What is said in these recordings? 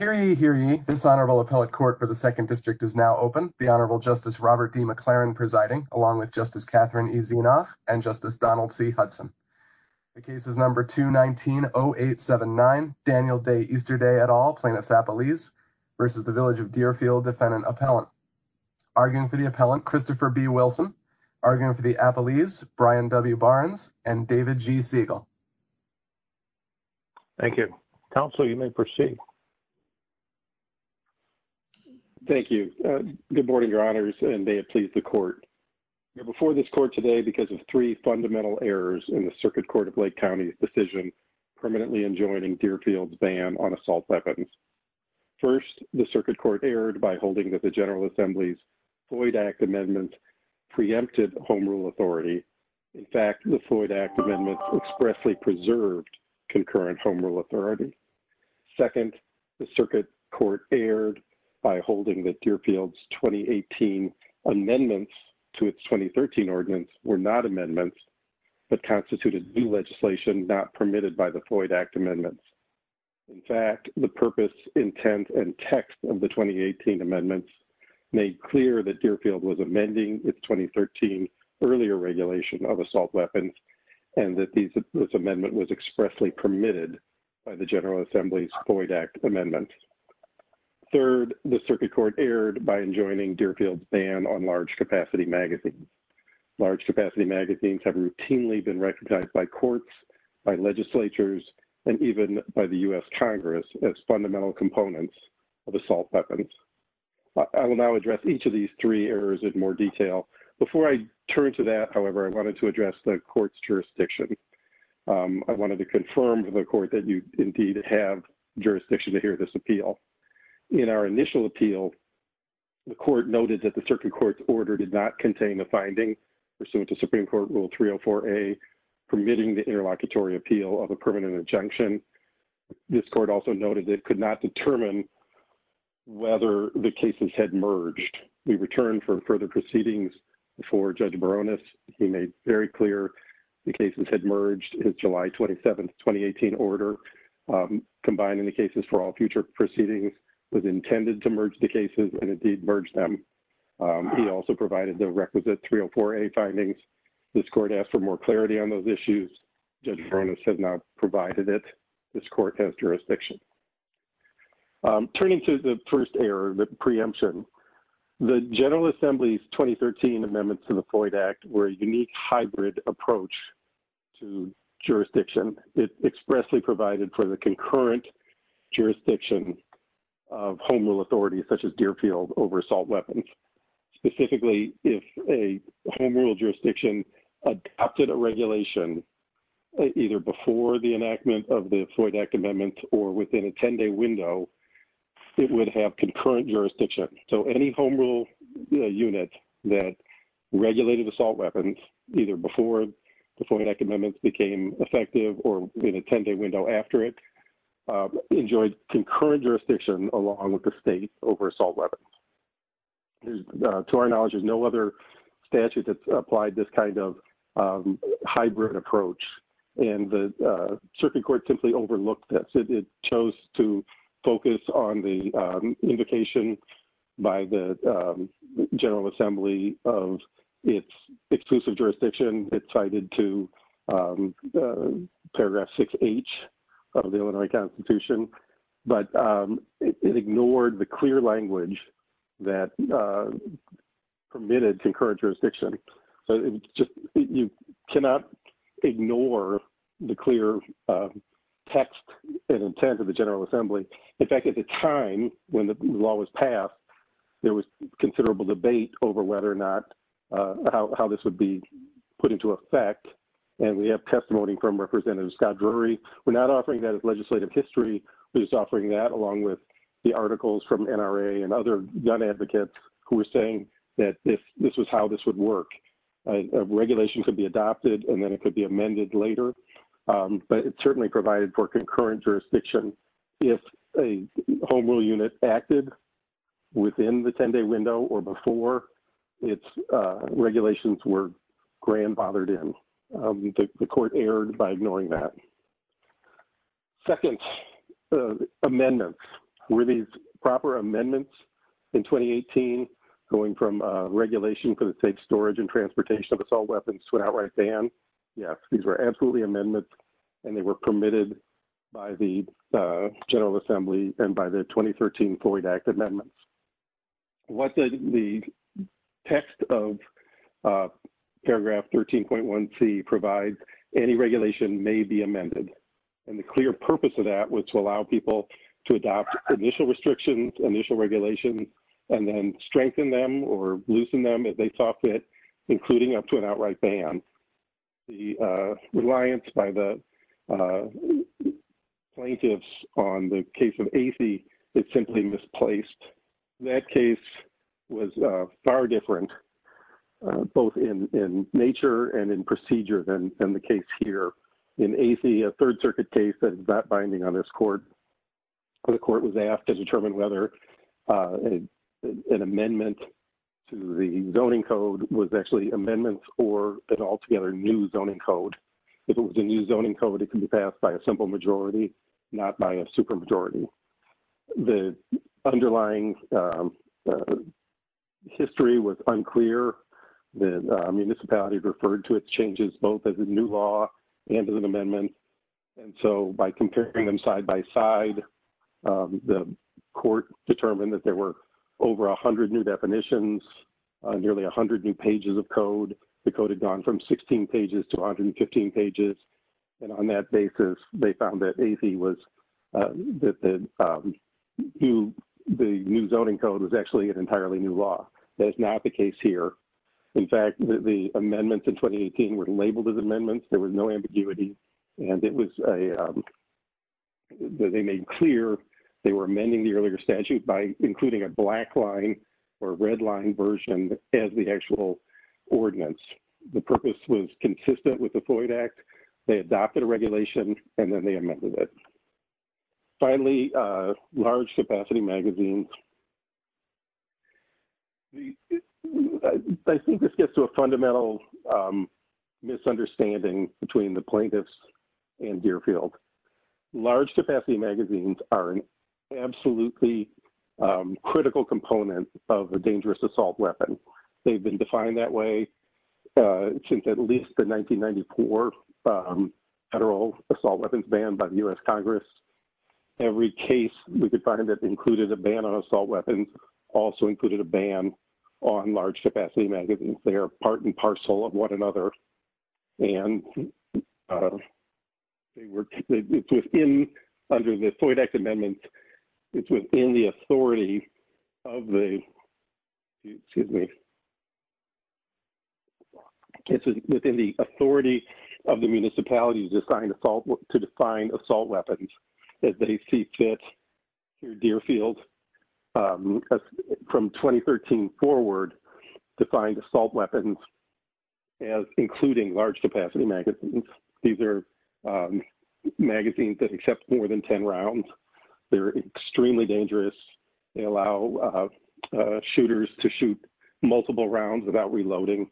Hear ye, hear ye. This Honorable Appellate Court for the Second District is now open. The Honorable Justice Robert D. McLaren presiding along with Justice Catherine E. Zenoff and Justice Donald C. Hudson. The case is number 219-0879, Daniel Day Easterday et al, plaintiff's appellees versus the Village of Deerfield defendant appellant. Arguing for the appellant, Christopher B. Wilson, arguing for the counsel, you may proceed. Thank you, good morning, your Honors and they appease the court. Before this court today, because of three fundamental errors in the Circuit Court of Lake County's decision, permanently enjoining Deerfield's ban on assault weapons. First, the Circuit Court erred by holding that the General Assembly's Floyd Act Amendment preempted home rule authority. In fact, the Floyd Act Amendment expressly preserved concurrent home rule authority. Second, the Circuit Court erred by holding that Deerfield's 2018 amendments to its 2013 ordinance were not amendments, but constituted new legislation not permitted by the Floyd Act Amendment. In fact, the purpose, intent, and text of the 2018 amendments made clear that Deerfield was amending its 2013 earlier regulation of assault weapons, and that this amendment was expressly permitted by the General Assembly's Floyd Act Amendment. Third, the Circuit Court erred by enjoining Deerfield's ban on large capacity magazines. Large capacity magazines have routinely been recognized by courts, by legislatures, and even by the US Congress as fundamental components of assault weapons. I will now address each of these three errors in more detail. Before I turn to that, however, I wanted to address the Court's jurisdiction. I wanted to confirm to the Court that you indeed have jurisdiction to hear this appeal. In our initial appeal, the Court noted that the Circuit Court's order did not contain the finding pursuant to Supreme Court Rule 304A permitting the interlocutory appeal of a permanent injunction. This Court also noted it could not determine whether the cases had merged. We return for further proceedings before Judge Baronis. He made very clear the cases had merged in July 27, 2018 order. Combining the cases for all future proceedings was intended to merge the cases, and indeed merged them. He also provided the requisite 304A findings. This Court asked for more clarity on those issues. Judge Baronis had not provided it. This Court has jurisdiction. Turning to the first error, the preemption, the General Floyd Act were a unique hybrid approach to jurisdiction. It expressly provided for the concurrent jurisdiction of Home Rule authorities such as Deerfield over assault weapons. Specifically, if a Home Rule jurisdiction adopted a regulation either before the enactment of the Floyd Act Amendment or within a 10-day window, it would have jurisdiction. Any Home Rule unit that regulated assault weapons, either before the Floyd Act Amendment became effective or within a 10-day window after it, enjoyed concurrent jurisdiction along with the state over assault weapons. To our knowledge, there's no other statute that applied this kind of hybrid approach. The Supreme Court simply overlooked that. It chose to focus on the indication by the General Assembly of its exclusive jurisdiction. It cited to Paragraph 6H of the Illinois Constitution, but it ignored the clear language that permitted concurrent jurisdiction. You cannot ignore the clear text and intent of the General Assembly. In fact, at the time when the law was passed, there was considerable debate over whether or not how this would be put into effect. We have testimony from Representative Scott Drury. We're not offering that as legislative history. We're just offering that along with the articles from NRA and other young advocates who were saying that this was how this would work. A regulation could be adopted and then it could be but it certainly provided for concurrent jurisdiction. If a home rule unit acted within the 10-day window or before, its regulations were grand bothered in. The court erred by ignoring that. Second, amendments. Were these proper amendments in 2018 going from regulation for the state's storage and transportation of assault weapons to outright ban? Yes, these were absolutely amendments and they were permitted by the General Assembly and by the 2013 Floyd Act amendments. What did the text of Paragraph 13.1C provide? Any regulation may be amended. The clear purpose of that was to allow people to adopt initial restrictions, initial regulations, and then strengthen them or loosen them if they saw fit, including up to an outright ban. The reliance by the plaintiffs on the case of A.C. is simply misplaced. That case was far different both in nature and in procedure than the case here. In A.C., a Third Circuit case that is not binding on this court, the court was asked to was actually amendments for an altogether new zoning code. If it was a new zoning code, it could be passed by a simple majority, not by a supermajority. The underlying history was unclear. The municipality referred to it changes both as a new law and as an amendment. By comparing them side by side, the court determined that there were over 100 new definitions, nearly 100 new pages of code. The code had gone from 16 pages to 115 pages. On that basis, they found that A.C. was that the new zoning code was actually an entirely new law. That's not the case here. In fact, the amendments in 2018 were labeled as amendments. There was no ambiguity. They made clear they were amending the earlier statute by including a black line or red line version as the actual ordinance. The purpose was consistent with the Floyd Act. They adopted a regulation and then they amended it. Finally, large capacity magazines. I think this gets to a fundamental misunderstanding between the plaintiffs and critical components of a dangerous assault weapon. They've been defined that way since at least the 1994 federal assault weapons ban by the U.S. Congress. Every case we could find that included a ban on assault weapons also included a ban on large capacity magazines. They are part and parcel of one another. It's within under the Floyd Act it's within the authority of the municipality to define assault weapons that they see fit. Deerfield from 2013 forward defined assault weapons as including large capacity magazines. These are magazines that accept more than 10 rounds. They're extremely dangerous. They allow shooters to shoot multiple rounds without reloading.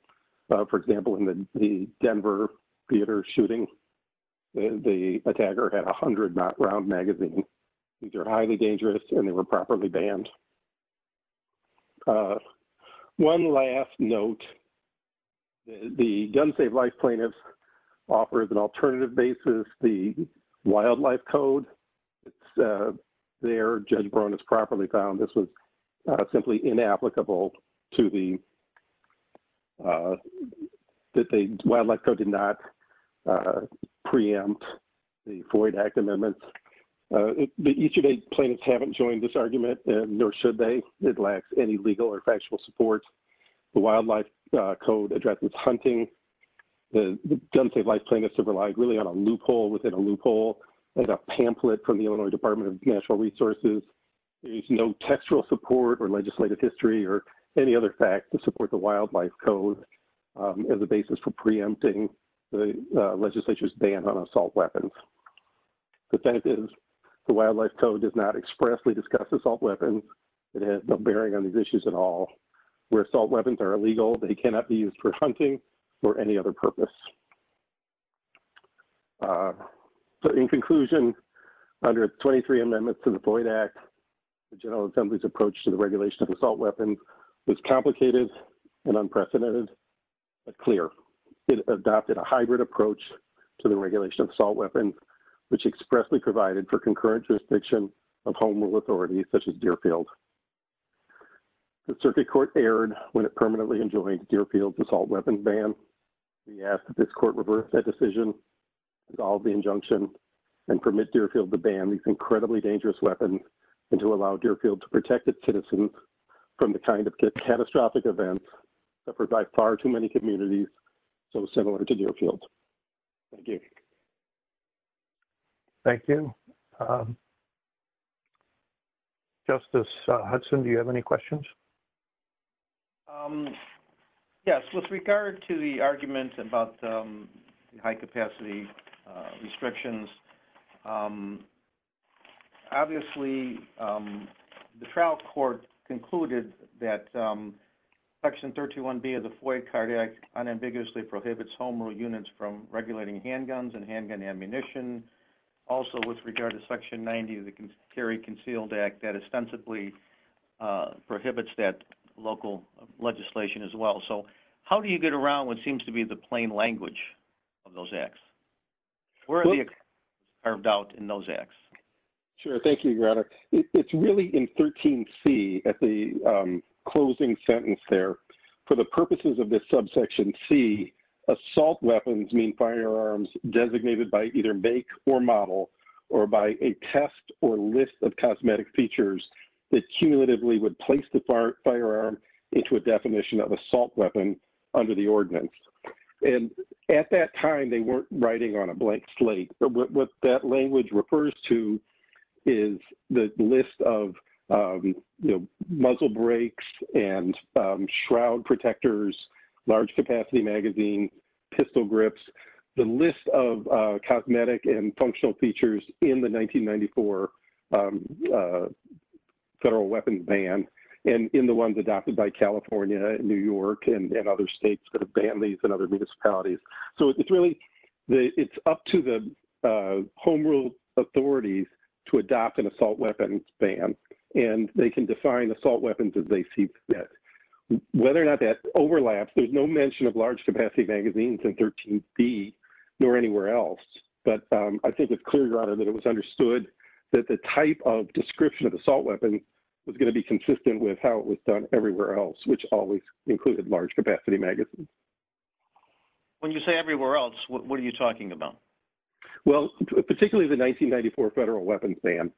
For example, in the Denver theater shooting, the attacker had 100 round magazines. These are highly dangerous and they were offered as an alternative basis. The wildlife code there, Judge Brown has properly found this was simply inapplicable to the that the wildlife code did not preempt the Floyd Act amendments. Each of the plaintiffs haven't joined this argument and nor should they. It lacks any legal or factual support. The wildlife code addresses hunting. It doesn't take life plaintiffs to rely really on a loophole within a loophole like a pamphlet from the Illinois Department of Natural Resources. There is no textual support or legislative history or any other fact to support the wildlife code as a basis for preempting the legislature's ban on assault weapons. The fact is the wildlife code does not expressly discuss assault weapons. It has no bearing on these issues at all. Where assault weapons are illegal, they cannot be used for hunting or any other purpose. So in conclusion, under 23 amendments to the Floyd Act, the General Assembly's approach to the regulation of assault weapons is complicated and unprecedented, but clear. It adopted a hybrid approach to the regulation of assault weapons, which expressly provided for concurrent jurisdiction of home rule authorities such as Deerfield. The Circuit Court erred when it permanently enjoined Deerfield's assault weapons ban. We ask that this Court reverse that decision, dissolve the injunction, and permit Deerfield to ban these incredibly dangerous weapons and to allow Deerfield to protect its citizens from the kind of catastrophic events that provide far too many communities so similar to Deerfield. Thank you. Justice Hudson, do you have any questions? Yes, with regard to the argument about the high capacity restrictions, obviously the trial court concluded that Section 321B of the Floyd Cardiac unambiguously prohibits home rule units from regulating handguns and handgun ammunition. Also, with regard to Section 90 of the Carry Concealed Act, that ostensibly prohibits that local legislation as well. So how do you get around what seems to be the plain language of those acts? Sure, thank you, Your Honor. It's really in 13C at the closing sentence there. For the purposes of this subsection C, assault weapons mean firearms designated by either make or model or by a test or list of cosmetic features that cumulatively would place the firearm into a definition of assault weapon under the ordinance. And at that time, they weren't writing on a blank slate. What that language refers to is the list of muzzle brakes and shroud protectors, large capacity magazines, pistol grips, the list of cosmetic and functional features in the 1994 federal weapons ban, and in the ones adopted by California, New York, and other states, and other municipalities. So it's really up to the home rule authorities to adopt an and they can define assault weapons as they see fit. Whether or not that overlaps, there's no mention of large capacity magazines in 13C, nor anywhere else. But I think it's clear, Your Honor, that it was understood that the type of description of assault weapons was going to be consistent with how it was done everywhere else, which always included large capacity magazines. When you say everywhere else, what are you talking about? Well, particularly the 1994 federal weapons ban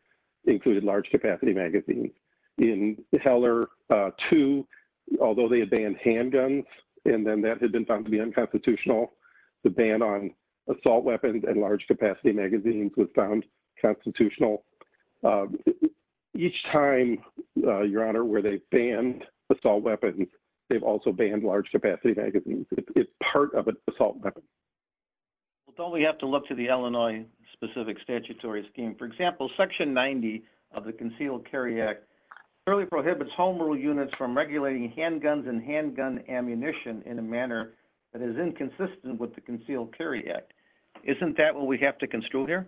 included large capacity magazines. In Heller 2, although they had banned handguns, and then that had been found to be unconstitutional, the ban on assault weapons and large capacity magazines was found constitutional. Each time, Your Honor, where they banned assault weapons, they've also banned large capacity magazines. It's part of an assault weapon. That's all we have to look to the Illinois-specific statutory scheme. For example, Section 90 of the Concealed Carry Act clearly prohibits home rule units from regulating handguns and handgun ammunition in a manner that is inconsistent with the Concealed Carry Act. Isn't that what we have to construe here?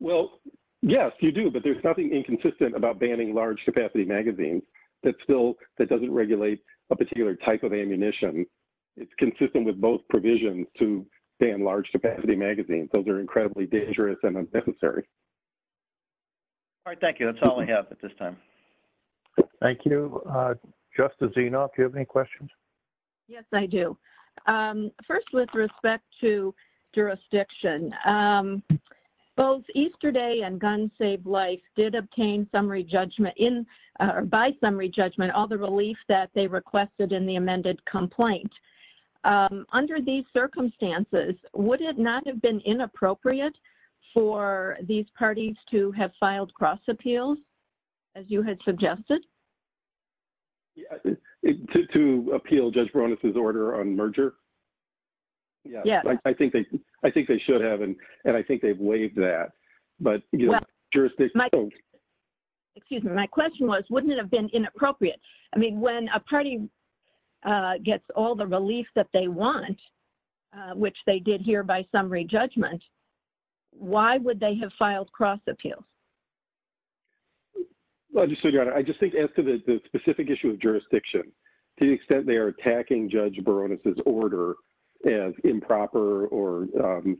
Well, yes, you do. But there's nothing inconsistent about banning large capacity magazines that still that doesn't regulate a particular type of ammunition. It's consistent with both provisions to ban large capacity magazines. Those are dangerous and unnecessary. All right. Thank you. That's all I have at this time. Thank you. Justice Zinoff, do you have any questions? Yes, I do. First, with respect to jurisdiction, both Easterday and Gun Save Life did obtain by summary judgment all the relief that they requested in the amended complaint. Under these circumstances, would it not have been inappropriate for these parties to have filed cross-appeals, as you had suggested? To appeal Judge Baronis' order on merger? Yes. I think they should have. And I think they've waived that. But, you know, jurisdiction... Excuse me. My question was, wouldn't it have been inappropriate? I mean, when a party gets all the relief that they want, which they did by summary judgment, why would they have filed cross-appeal? Well, I just think as to the specific issue of jurisdiction, to the extent they're attacking Judge Baronis' order as improper or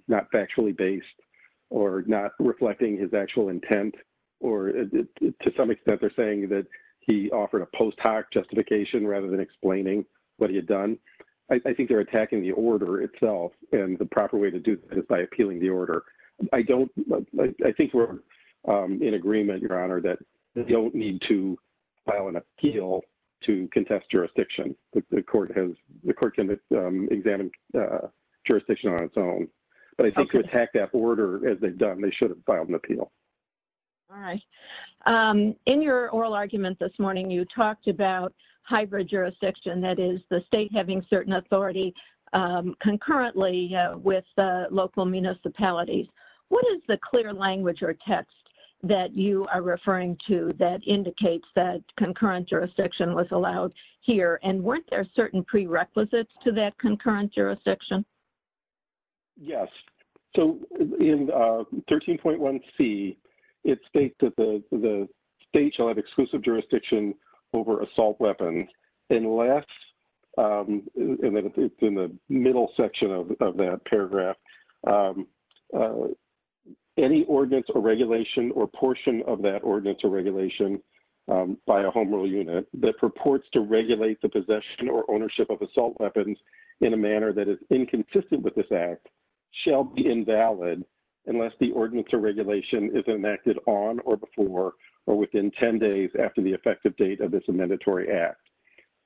not factually based or not reflecting his actual intent, or to some extent they're saying that he offered a post hoc justification rather than explaining what he had done. I think they're by appealing the order. I think we're in agreement, Your Honor, that they don't need to file an appeal to contest jurisdiction. The court can examine jurisdiction on its own. But I think to attack that order as they've done, they should have filed an appeal. All right. In your oral argument this morning, you talked about hybrid jurisdiction, that is the state having certain authority concurrently with the local municipalities. What is the clear language or text that you are referring to that indicates that concurrent jurisdiction was allowed here? And weren't there certain prerequisites to that concurrent jurisdiction? Yes. So in 13.1c, it states that the state shall have exclusive jurisdiction over assault weapons. Unless, and then it's in the middle section of that paragraph, any ordinance or regulation or portion of that ordinance or regulation by a homeowner unit that purports to regulate the possession or ownership of assault weapons in a manner that is inconsistent with this act shall be invalid unless the ordinance or regulation is enacted on or before or within 10 days after the effective date of this amendatory act.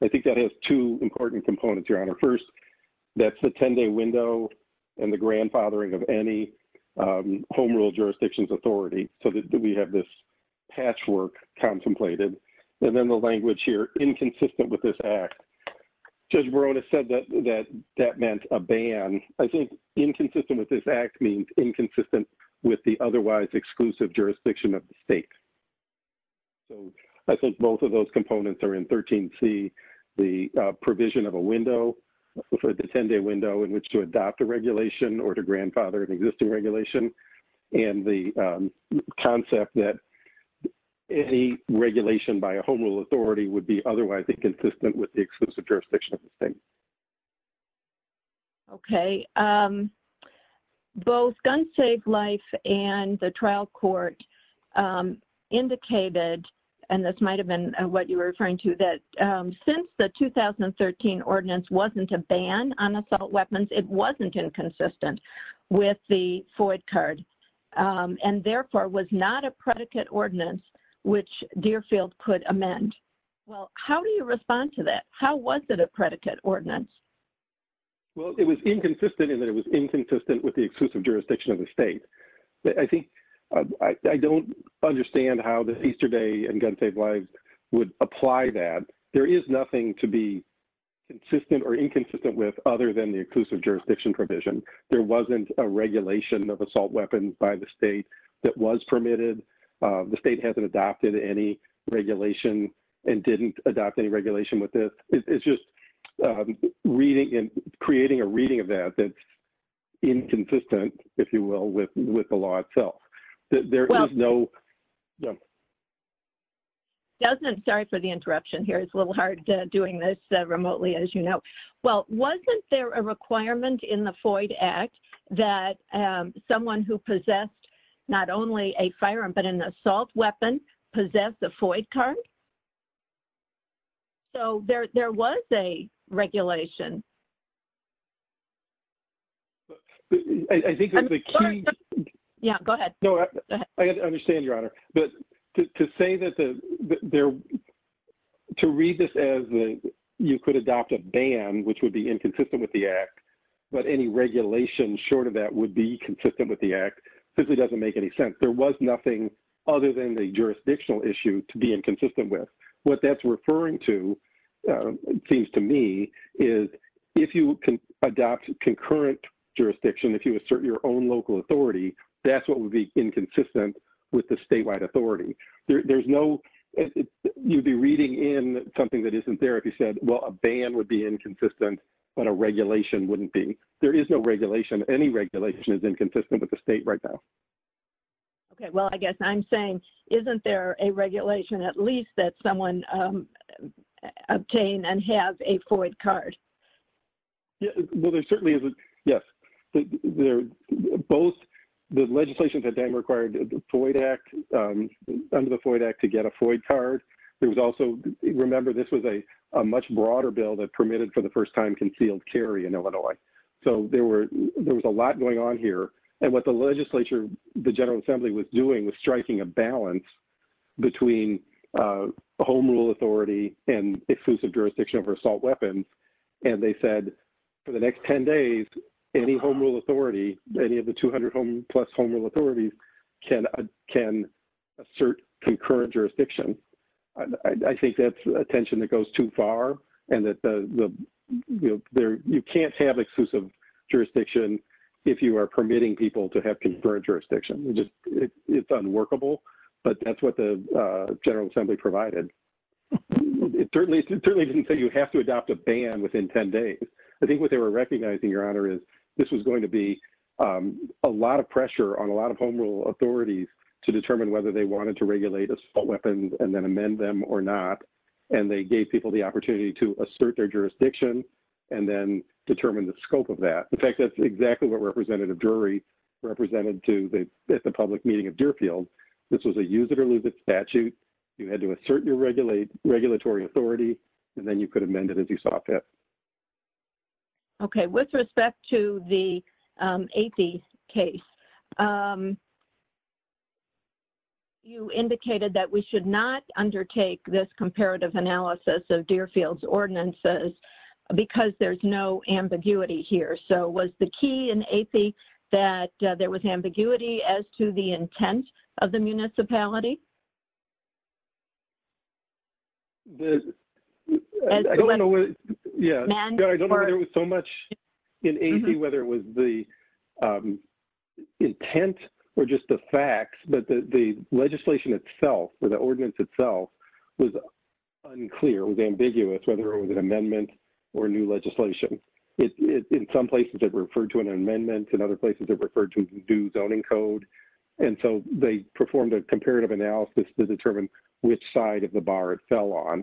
I think that has two important components, Your Honor. First, that's the 10-day window and the grandfathering of any home rule jurisdiction's authority. So we have this patchwork contemplated. And then the language here, inconsistent with this act. Judge Morone has said that that meant a ban. I think inconsistent with this act means inconsistent with the otherwise exclusive jurisdiction of state. So I think both of those components are in 13.c, the provision of a window, the 10-day window in which to adopt a regulation or to grandfather an existing regulation. And the concept that any regulation by a home rule the exclusive jurisdiction of the state. Okay. Both Gun Safe Life and the trial court indicated, and this might have been what you were referring to, that since the 2013 ordinance wasn't a ban on assault weapons, it wasn't inconsistent with the FOID card. And therefore was not a predicate ordinance which Deerfield could amend. Well, how do you respond to that? How was it a predicate ordinance? Well, it was inconsistent in that it was inconsistent with the exclusive jurisdiction of the state. I think I don't understand how the Easter Day and Gun Safe Life would apply that. There is nothing to be consistent or inconsistent with other than the exclusive jurisdiction provision. There wasn't a regulation of assault weapons by the state that was permitted. The state hasn't adopted any regulation and didn't adopt any regulation with this. It's just reading and creating a reading of that that's inconsistent, if you will, with the law itself. There is no... Doesn't start with the interruption here. It's a little hard doing this remotely, as you know. Well, wasn't there a requirement in the FOID Act that someone who possessed not only a firearm but an assault weapon possess the FOID card? So, there was a regulation. I think that the key... Yeah, go ahead. I understand, Your Honor. But to say that to read this as you could adopt a ban, which would be inconsistent with the Act, but any regulation short of that would be consistent with the Act, simply doesn't make any sense. There was nothing other than the jurisdictional issue to be inconsistent with. What that's referring to, it seems to me, is if you can adopt concurrent jurisdiction, if you assert your own local authority, that's what would be inconsistent with the statewide authority. You'd be reading in something that isn't there if you said, well, a ban would be inconsistent, but a regulation wouldn't be. There is no regulation. Any regulation is inconsistent with the state right now. Okay. Well, I guess I'm saying, isn't there a regulation at least that someone obtained and has a FOID card? Well, there certainly isn't. Yes. Both the legislation that then required the FOID Act, under the FOID Act, to get a FOID card. There was also, remember, this was a much broader bill that permitted for the first time concealed carry in Illinois. So, there was a lot going on and what the legislature, the General Assembly, was doing was striking a balance between a home rule authority and exclusive jurisdiction over assault weapons. They said, for the next 10 days, any home rule authority, any of the 200 plus home rule authorities can assert concurrent jurisdiction. I think that's a tension that goes too far. You can't have exclusive jurisdiction if you are permitting people to have concurrent jurisdiction. It's unworkable, but that's what the General Assembly provided. It certainly didn't say you have to adopt a ban within 10 days. I think what they were recognizing, Your Honor, is this was going to be a lot of pressure on a lot of home rule authorities to determine whether they wanted to regulate assault weapons and then amend them or not. They gave people the opportunity to assert their jurisdiction and then determine the scope of that. In fact, that's exactly what Representative Drury represented at the public meeting of Deerfield. This was a use it or lose it statute. You had to assert your regulatory authority and then you could amend it as you saw fit. Okay. With respect to the AP case, you indicated that we should not undertake this comparative analysis of Deerfield's ordinances because there's no ambiguity here. So was the key in AP that there was ambiguity as to the intent of the municipality? I don't know whether it was so much in AP whether it was the intent or just the facts, but the legislation itself or the ordinance itself was unclear, was ambiguous, whether it was an amendment or new legislation. In some places it referred to an amendment. In other places it referred to due zoning code. And so they performed a comparative analysis to determine which side of the bar it fell on.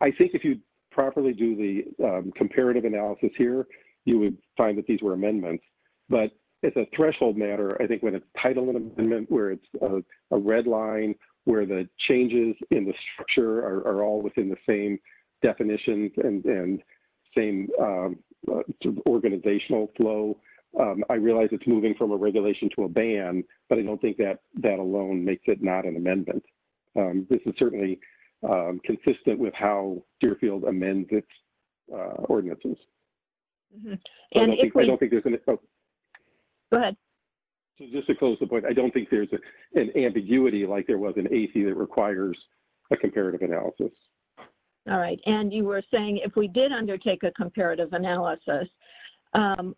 I think if you properly do the comparative analysis here, you would find that these were amendments. But as a threshold matter, I think when a title amendment where it's a red line, where the changes in the structure are all within the same definitions and same organizational flow, I realize it's moving from a regulation to a ban, but I don't think that that alone makes it not an amendment. This is certainly consistent with how Deerfield amends its ordinances. Go ahead. Just to close the point, I don't think there's an ambiguity like there was in a comparative analysis. All right. And you were saying if we did undertake a comparative analysis,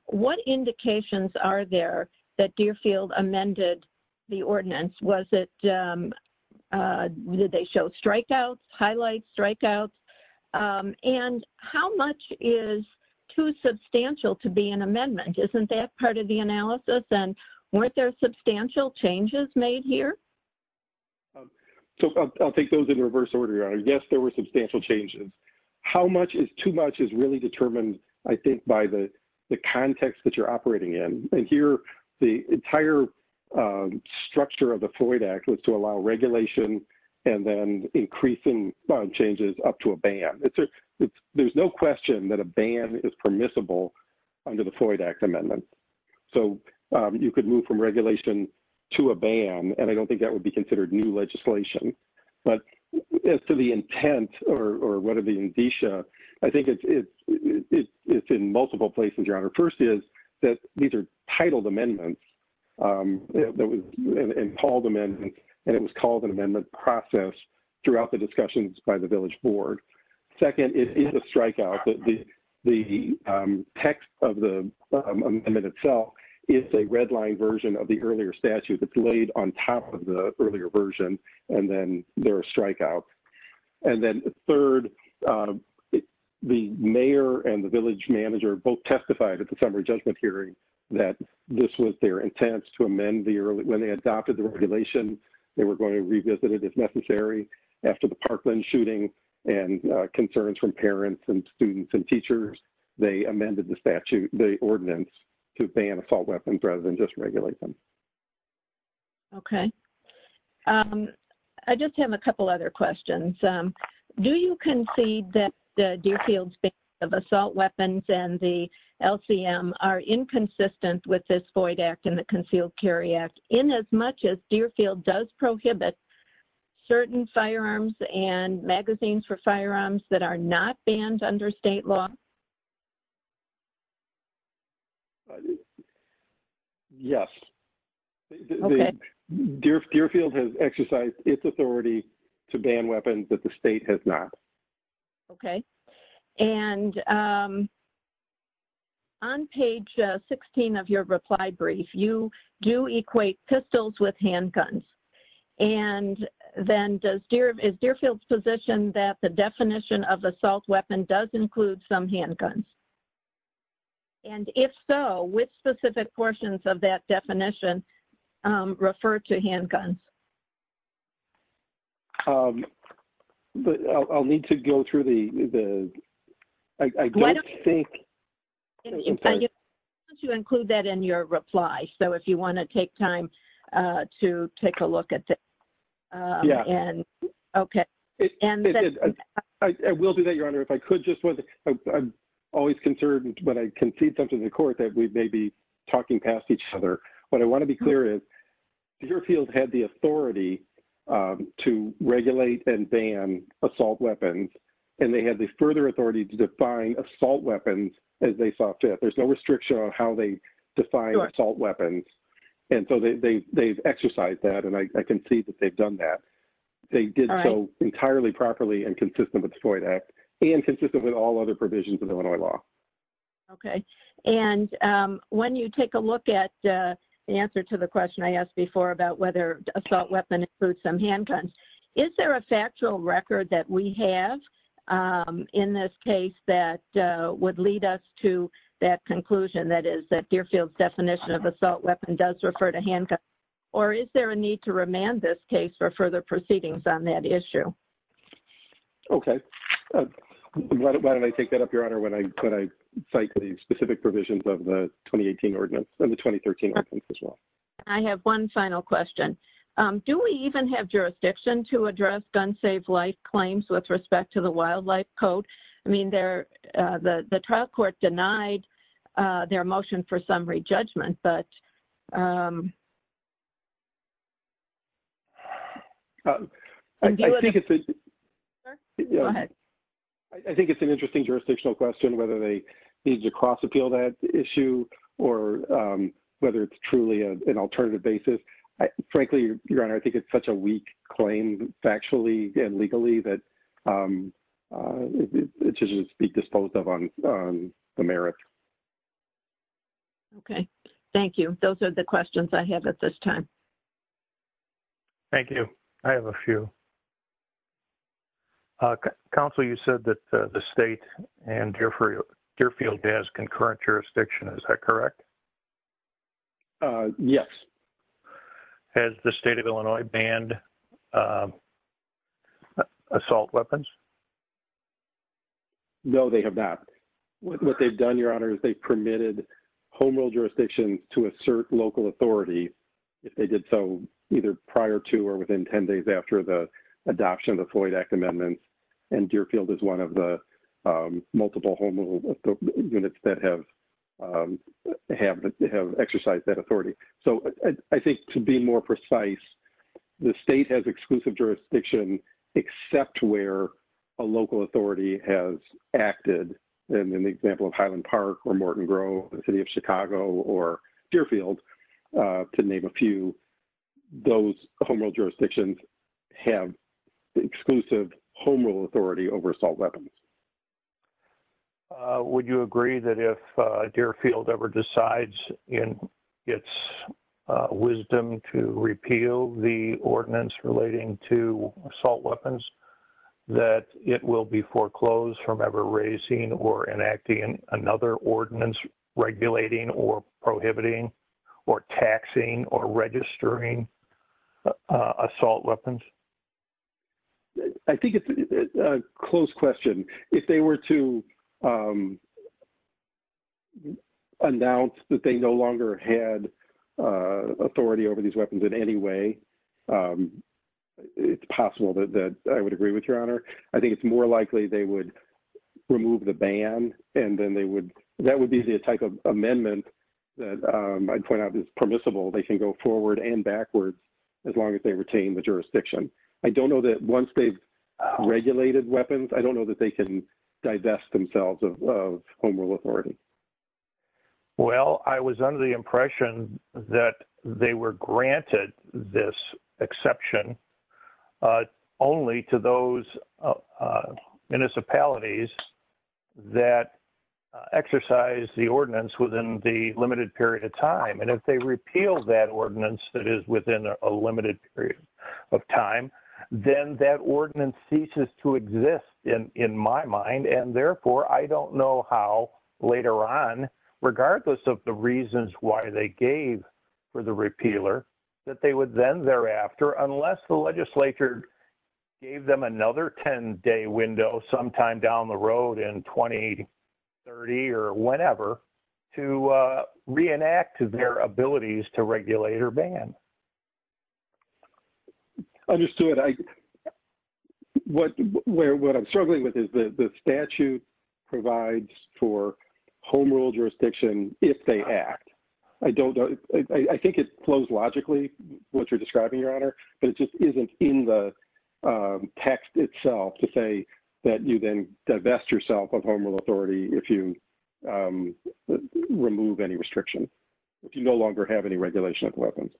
what indications are there that Deerfield amended the ordinance? Was it, did they show strikeouts, highlight strikeouts? And how much is too substantial to be an amendment? Isn't that part of the analysis? And weren't there substantial changes made here? So I'll take those in reverse order. Yes, there were substantial changes. How much is too much is really determined, I think, by the context that you're operating in. And here, the entire structure of the Floyd Act is to allow regulation and then increasing bond changes up to a ban. There's no question that a ban is permissible under the Floyd Act amendment. So you could move from regulation to a ban, and I don't think that would be considered new legislation. But as to the intent or what are the indicia, I think it's in multiple places, Your Honor. First is that these are titled amendments and called amendments, and it was called an amendment process throughout the discussions by the village board. Second, it is a strikeout that the text of the amendment itself is a redline version of the earlier statute that's laid on top of the earlier version, and then they're a strikeout. And then the third, the mayor and the village manager both testified at the summer judgment hearing that this was their intent to amend the early when they adopted the regulation, they were going to revisit it if necessary. After the Parkland shooting and concerns from parents and students and teachers, they amended the statute, the ordinance to ban assault weapons rather than just regulate them. Okay. I just have a couple other questions. Do you concede that the Deerfield's ban of assault weapons and the LCM are inconsistent with this Boyd Act and the concealed carry act in as much as Deerfield does prohibit certain firearms and magazines for firearms that are not banned under state law? Yes. Deerfield has exercised its authority to ban weapons that the state has not. Okay. And on page 16 of your reply brief, you do equate pistols with handguns. And then does Deerfield's position that the definition of handguns? And if so, which specific portions of that definition refer to handguns? I'll need to go through the, I don't think. To include that in your reply. So if you want to take time to take a look at that. Yeah. And okay. And I will do that, Your Honor. If I always concerned, but I can see something in court that we may be talking past each other, but I want to be clear is Deerfield had the authority to regulate and ban assault weapons. And they had the further authority to define assault weapons as they saw fit. There's no restriction on how they define assault weapons. And so they've exercised that. And I can see that they've done that. They did so entirely properly and consistent with the Boyd Act and consistent with all other provisions of Illinois law. Okay. And when you take a look at the answer to the question I asked before about whether assault weapon includes some handguns, is there a factual record that we have in this case that would lead us to that conclusion that is that Deerfield's definition of assault weapon does refer to handguns? Or is there a need to remand this case for further proceedings on that issue? Okay. Why don't I take that up, Your Honor, when I cite the specific provisions of the 2018 ordinance and the 2013 ordinance as well. I have one final question. Do we even have jurisdiction to address gun safe life claims with respect to the wildlife code? I mean, the trial court denied their motion for that. I think it's an interesting jurisdictional question whether they need to cross appeal that issue or whether it's truly an alternative basis. Frankly, Your Honor, I think it's such a weak claim factually and legally that it should just be disposed of on the merit. Okay. Thank you. Those are the questions I have at this time. Thank you. I have a few. Counsel, you said that the state and Deerfield has concurrent jurisdiction. Is that correct? Yes. Has the state of Illinois banned assault weapons? No, they have not. What they've done, Your Honor, is they've permitted home rule jurisdiction to assert local authority. They did so either prior to or within 10 days after the adoption of the Floyd Act Amendment. And Deerfield is one of the multiple home units that have exercised that authority. So I think to be more precise, the state has exclusive jurisdiction except where a local authority has acted. And in the example of Highland Park or Morton Grove, the city of Chicago or Deerfield, to name a few, those home rule jurisdictions have exclusive home rule authority over assault weapons. Would you agree that if Deerfield ever decides in its wisdom to repeal the ordinance relating to assault weapons, that it will be foreclosed from ever raising or enacting another ordinance regulating or prohibiting or taxing or registering assault weapons? I think it's a close question. If they were to announce that they no longer had authority over these weapons in any way, it's possible that I would agree with Your Honor. I think it's more that would be the type of amendment that I'd point out is permissible. They can go forward and backward as long as they retain the jurisdiction. I don't know that once they've regulated weapons, I don't know that they can divest themselves of home rule authority. Well, I was under the impression that they were granted this exception only to those municipalities that exercise the ordinance within the limited period of time. And if they repeal that ordinance that is within a limited period of time, then that ordinance ceases to exist in my mind. And therefore, I don't know how later on, regardless of the reasons why they gave for the repealer, that they would then thereafter, unless the legislature gave them another 10-day window sometime down the road in 2030 or whenever, to reenact their abilities to regulate or ban. Understood. What I'm struggling with is the statute provides for home rule jurisdiction if they act. I think it flows logically, what you're describing, Your Honor, but it just isn't in the text itself to say that you then divest yourself of home rule authority if you remove any restriction, if you no longer have any regulation of weapons.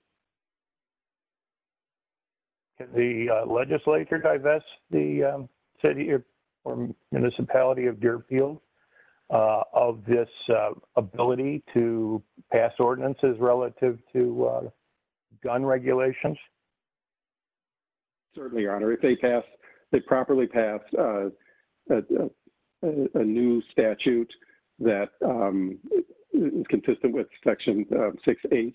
The legislature divest the city or municipality of Deerfield of this ability to pass ordinances relative to gun regulations? Certainly, Your Honor. If they passed, they properly passed a new statute that is consistent with Section 6H,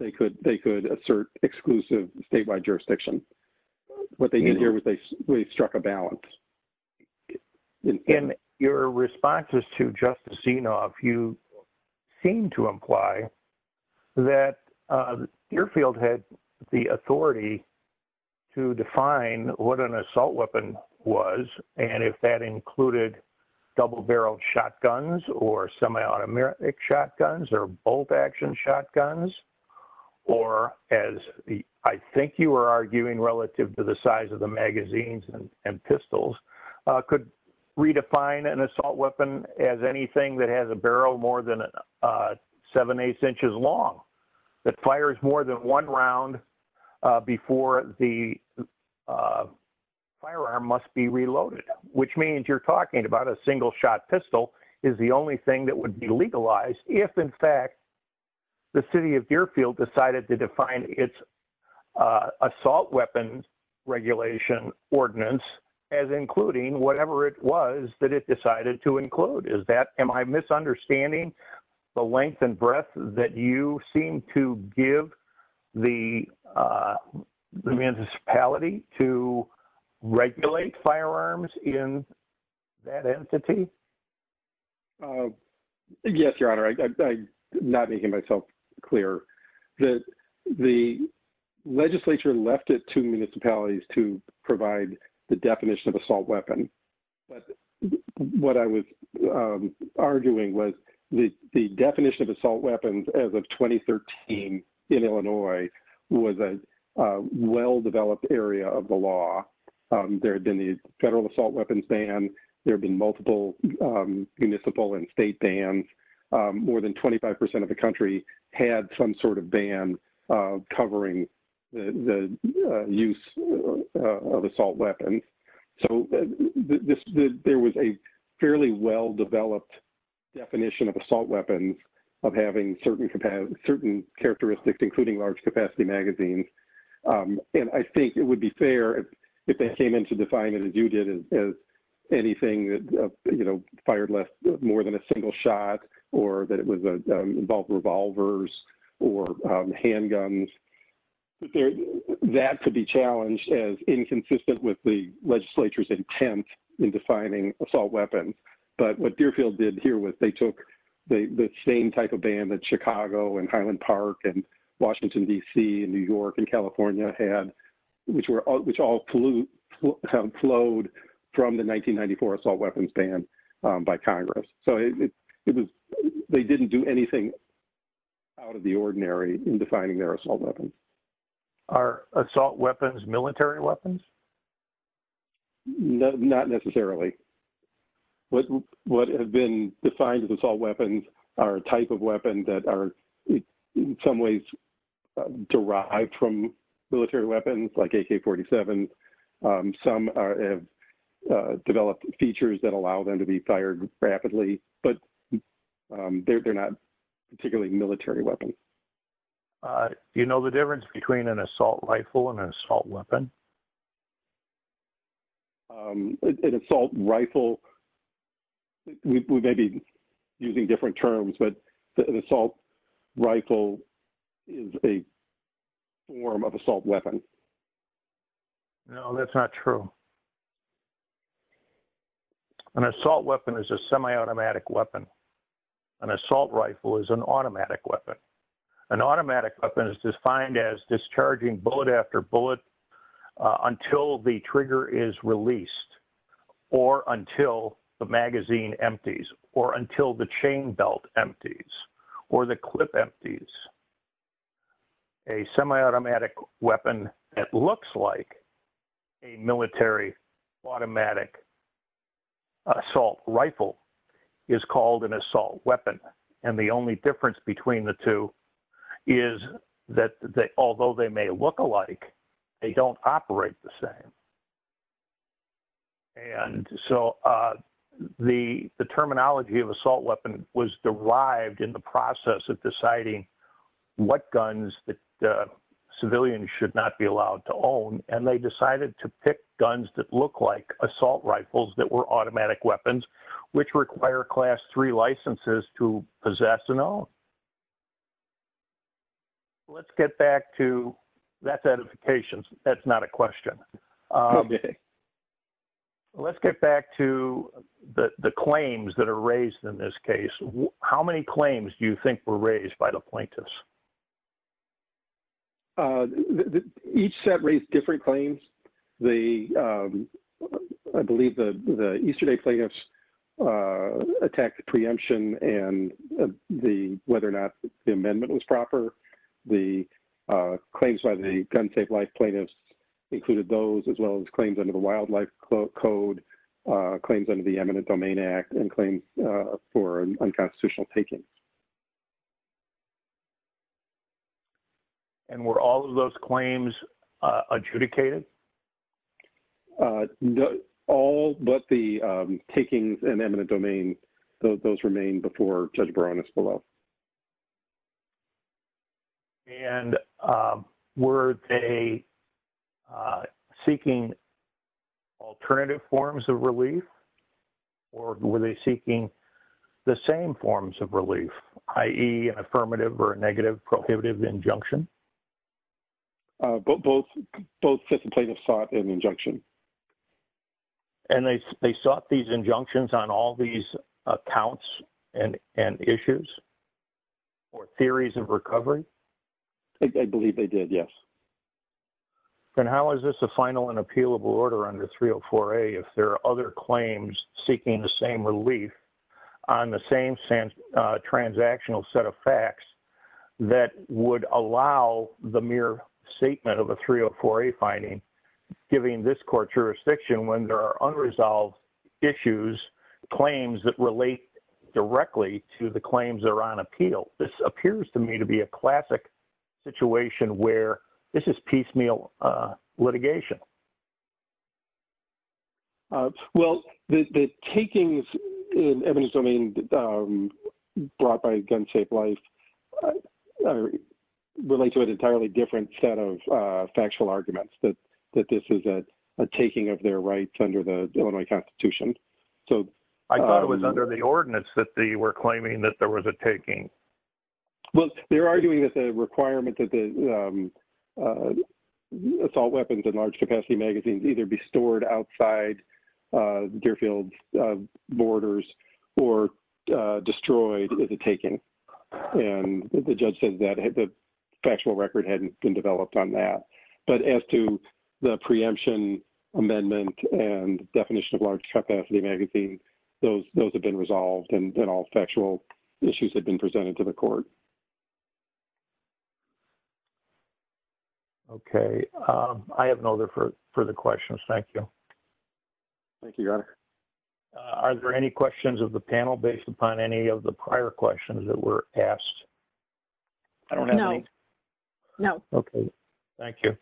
they could assert exclusive statewide jurisdiction. What they did here was they struck a balance. In your responses to Justice Genov, you seem to authority to define what an assault weapon was and if that included double-barreled shotguns or semi-automatic shotguns or bolt-action shotguns, or as I think you were arguing relative to the size of the magazines and pistols, could redefine an assault weapon as anything that has a barrel more than 7-8 inches long, that fires more than one round before the firearm must be reloaded, which means you're talking about a single-shot pistol is the only thing that would be legalized if, in fact, the city of Deerfield decided to define its assault weapons regulation ordinance as including whatever it was that it decided to include. Am I misunderstanding the length and breadth that you seem to give the municipality to regulate firearms in that entity? Yes, Your Honor. I'm not making myself clear. The legislature left it to municipalities to provide the definition of assault weapon. What I was arguing was the definition of assault weapons as of 2013 in Illinois was a well-developed area of the law. There had been a federal assault weapons ban. There had been multiple municipal and state bans. More than 25% of the country had some sort of ban covering the use of assault weapons. I think it would be fair if they came into defining it as anything that fired more than a single shot or that it involved revolvers or handguns. That could be challenged as inconsistent with the legislature's intent in what Deerfield did here was they took the same type of ban that Chicago and Highland Park and Washington, D.C. and New York and California had, which all have flowed from the 1994 assault weapons ban by Congress. They didn't do anything out of the ordinary in defining their assault weapons. Are assault weapons military weapons? Not necessarily. What have been defined as assault weapons are a type of weapon that are in some ways derived from military weapons like AK-47s. Some have developed features that allow them to be fired rapidly, but they're not particularly military weapons. You know the difference between an assault rifle and an assault weapon? An assault rifle, we may be using different terms, but an assault rifle is a form of assault weapon. No, that's not true. An assault weapon is a semi-automatic weapon. An assault rifle is an automatic weapon. An automatic weapon is defined as discharging bullet after bullet until the trigger is released or until the magazine empties or until the chain belt empties or the clip empties. A semi-automatic weapon that looks like a military automatic assault rifle is called an assault weapon, and the only difference between the two is that although they may look alike, they don't operate the same. And so the terminology of assault weapon was derived in the process of deciding what guns that civilians should not be allowed to own, and they decided to pick guns that look like assault rifles that were automatic weapons, which require class three licenses to operate. Let's get back to, that's edification, that's not a question. Let's get back to the claims that are raised in this case. How many claims do you think were raised by the plaintiffs? Each set raised different claims. I believe the Easter Day plaintiffs attacked the preemption and whether or not the amendment was proper. The claims by the gun tape-like plaintiffs included those as well as claims under the Wildlife Code, claims under the Eminent Domain Act, and claims for unconstitutional takings. And were all of those claims adjudicated? All but the takings in the eminent domain, those remain before Judge Baranis below. And were they seeking alternative forms of relief, or were they seeking the same forms of relief, i.e. an affirmative or a negative prohibitive injunction? Both, both plaintiffs sought an injunction. And they sought these injunctions on all these accounts and issues or theories of recovery? I believe they did, yes. And how is this a final and appealable order under 304A if there are other claims seeking the same relief on the same transactional set of facts that would allow the mere statement of a 304A finding, giving this court jurisdiction when there are unresolved issues, claims that relate directly to the claims that are on appeal? This appears to me to be a classic situation where this is piecemeal litigation. Well, the takings in the Eminent Domain brought by gun tape-like relates to an entirely different set of factual arguments that this is a taking of their rights under the Illinois Constitution. I thought it was under the ordinance that they were claiming that there was a taking. Well, they're arguing that the requirement that the assault weapons and large-capacity magazines either be stored outside Deerfield's borders or destroyed is a taking. And the judge says that the factual record hadn't been developed on that. But as to the preemption amendment and definition of large-capacity magazine, those have been resolved and all factual issues have been presented to the court. Okay. I have no further questions. Thank you. Thank you, Your Honor. Are there any questions of the panel based upon any of the prior questions that were asked? I don't have any. No. No. Okay. Thank you.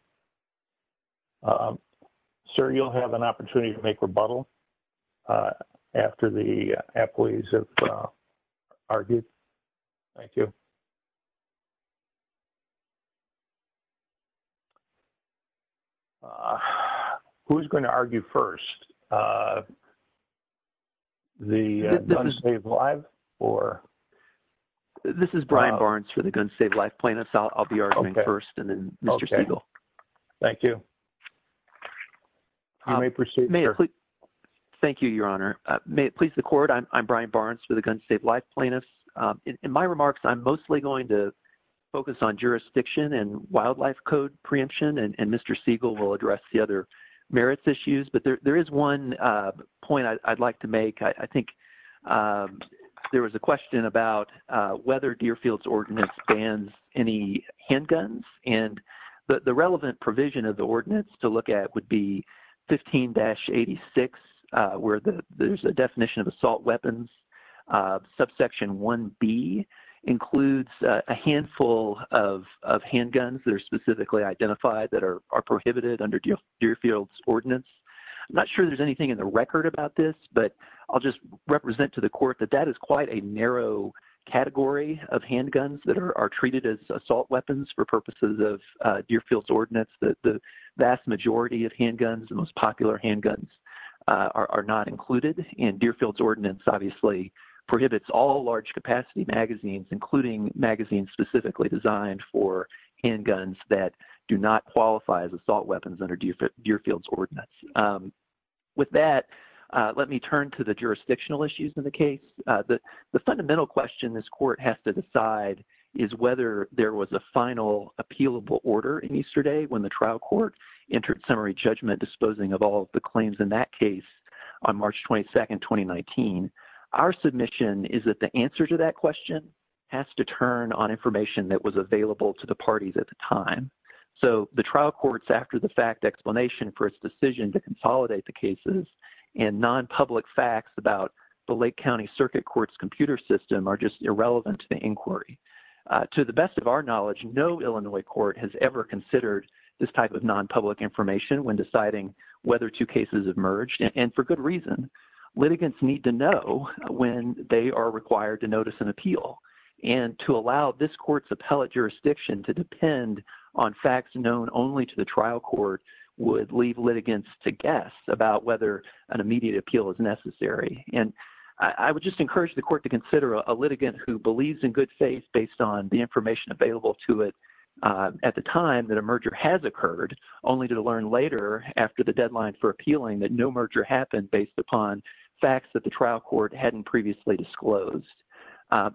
Sir, you'll have an opportunity to make rebuttal after the employees have argued. Thank you. Who's going to argue first? The Guns Save Lives or? This is Brian Barnes for the Guns Save Lives plaintiffs. I'll be arguing first and then Mr. Siegel. Thank you. Thank you, Your Honor. May it please the court, I'm Brian Barnes for the Guns Save Lives plaintiffs. In my remarks, I'm mostly going to focus on jurisdiction and wildlife code preemption and Mr. Siegel will address the other merits issues. But there is one point I'd like to make. I think there was a question about whether Deerfield's ordinance bans any handguns. And the relevant provision of the ordinance to look at would be 15-86, where there's a definition of assault weapons. Subsection 1B includes a handful of handguns that are specifically identified that are prohibited under Deerfield's ordinance. I'm not sure there's anything in the record about this, but I'll just represent to the handguns that are treated as assault weapons for purposes of Deerfield's ordinance that the vast majority of handguns, the most popular handguns, are not included. And Deerfield's ordinance, obviously, prohibits all large capacity magazines, including magazines specifically designed for handguns that do not qualify as assault weapons under Deerfield's ordinance. With that, let me turn to the jurisdictional issues in the case. The fundamental question this court has to decide is whether there was a final appealable order in Easterday when the trial court entered summary judgment disposing of all the claims in that case on March 22, 2019. Our submission is that the answer to that question has to turn on information that was available to the parties at the time. So the trial court's after-the-fact explanation for its decision to consolidate the cases and non-public facts about the Lake County Circuit Court's computer system are just irrelevant to the inquiry. To the best of our knowledge, no Illinois court has ever considered this type of non-public information when deciding whether two cases have merged, and for good reason. Litigants need to know when they are required to notice an appeal. And to allow this court's appellate jurisdiction to depend on facts known only to the trial court would leave litigants to guess about whether an immediate appeal is necessary. And I would just encourage the court to believe in good faith based on the information available to it at the time that a merger has occurred, only to learn later after the deadline for appealing that no merger happened based upon facts that the trial court hadn't previously disclosed.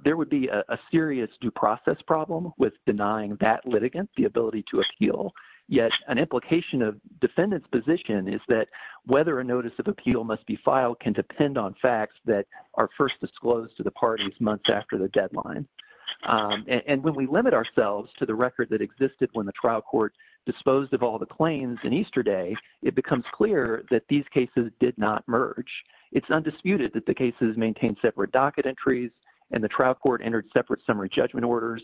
There would be a serious due process problem with denying that litigant the ability to appeal, yet an implication of defendant's position is that whether a notice of appeal must be filed can depend on facts that are first disclosed to the parties months after the deadline. And when we limit ourselves to the record that existed when the trial court disposed of all the claims in Easterday, it becomes clear that these cases did not merge. It's undisputed that the cases maintained separate docket entries, and the trial court entered separate summary judgment orders.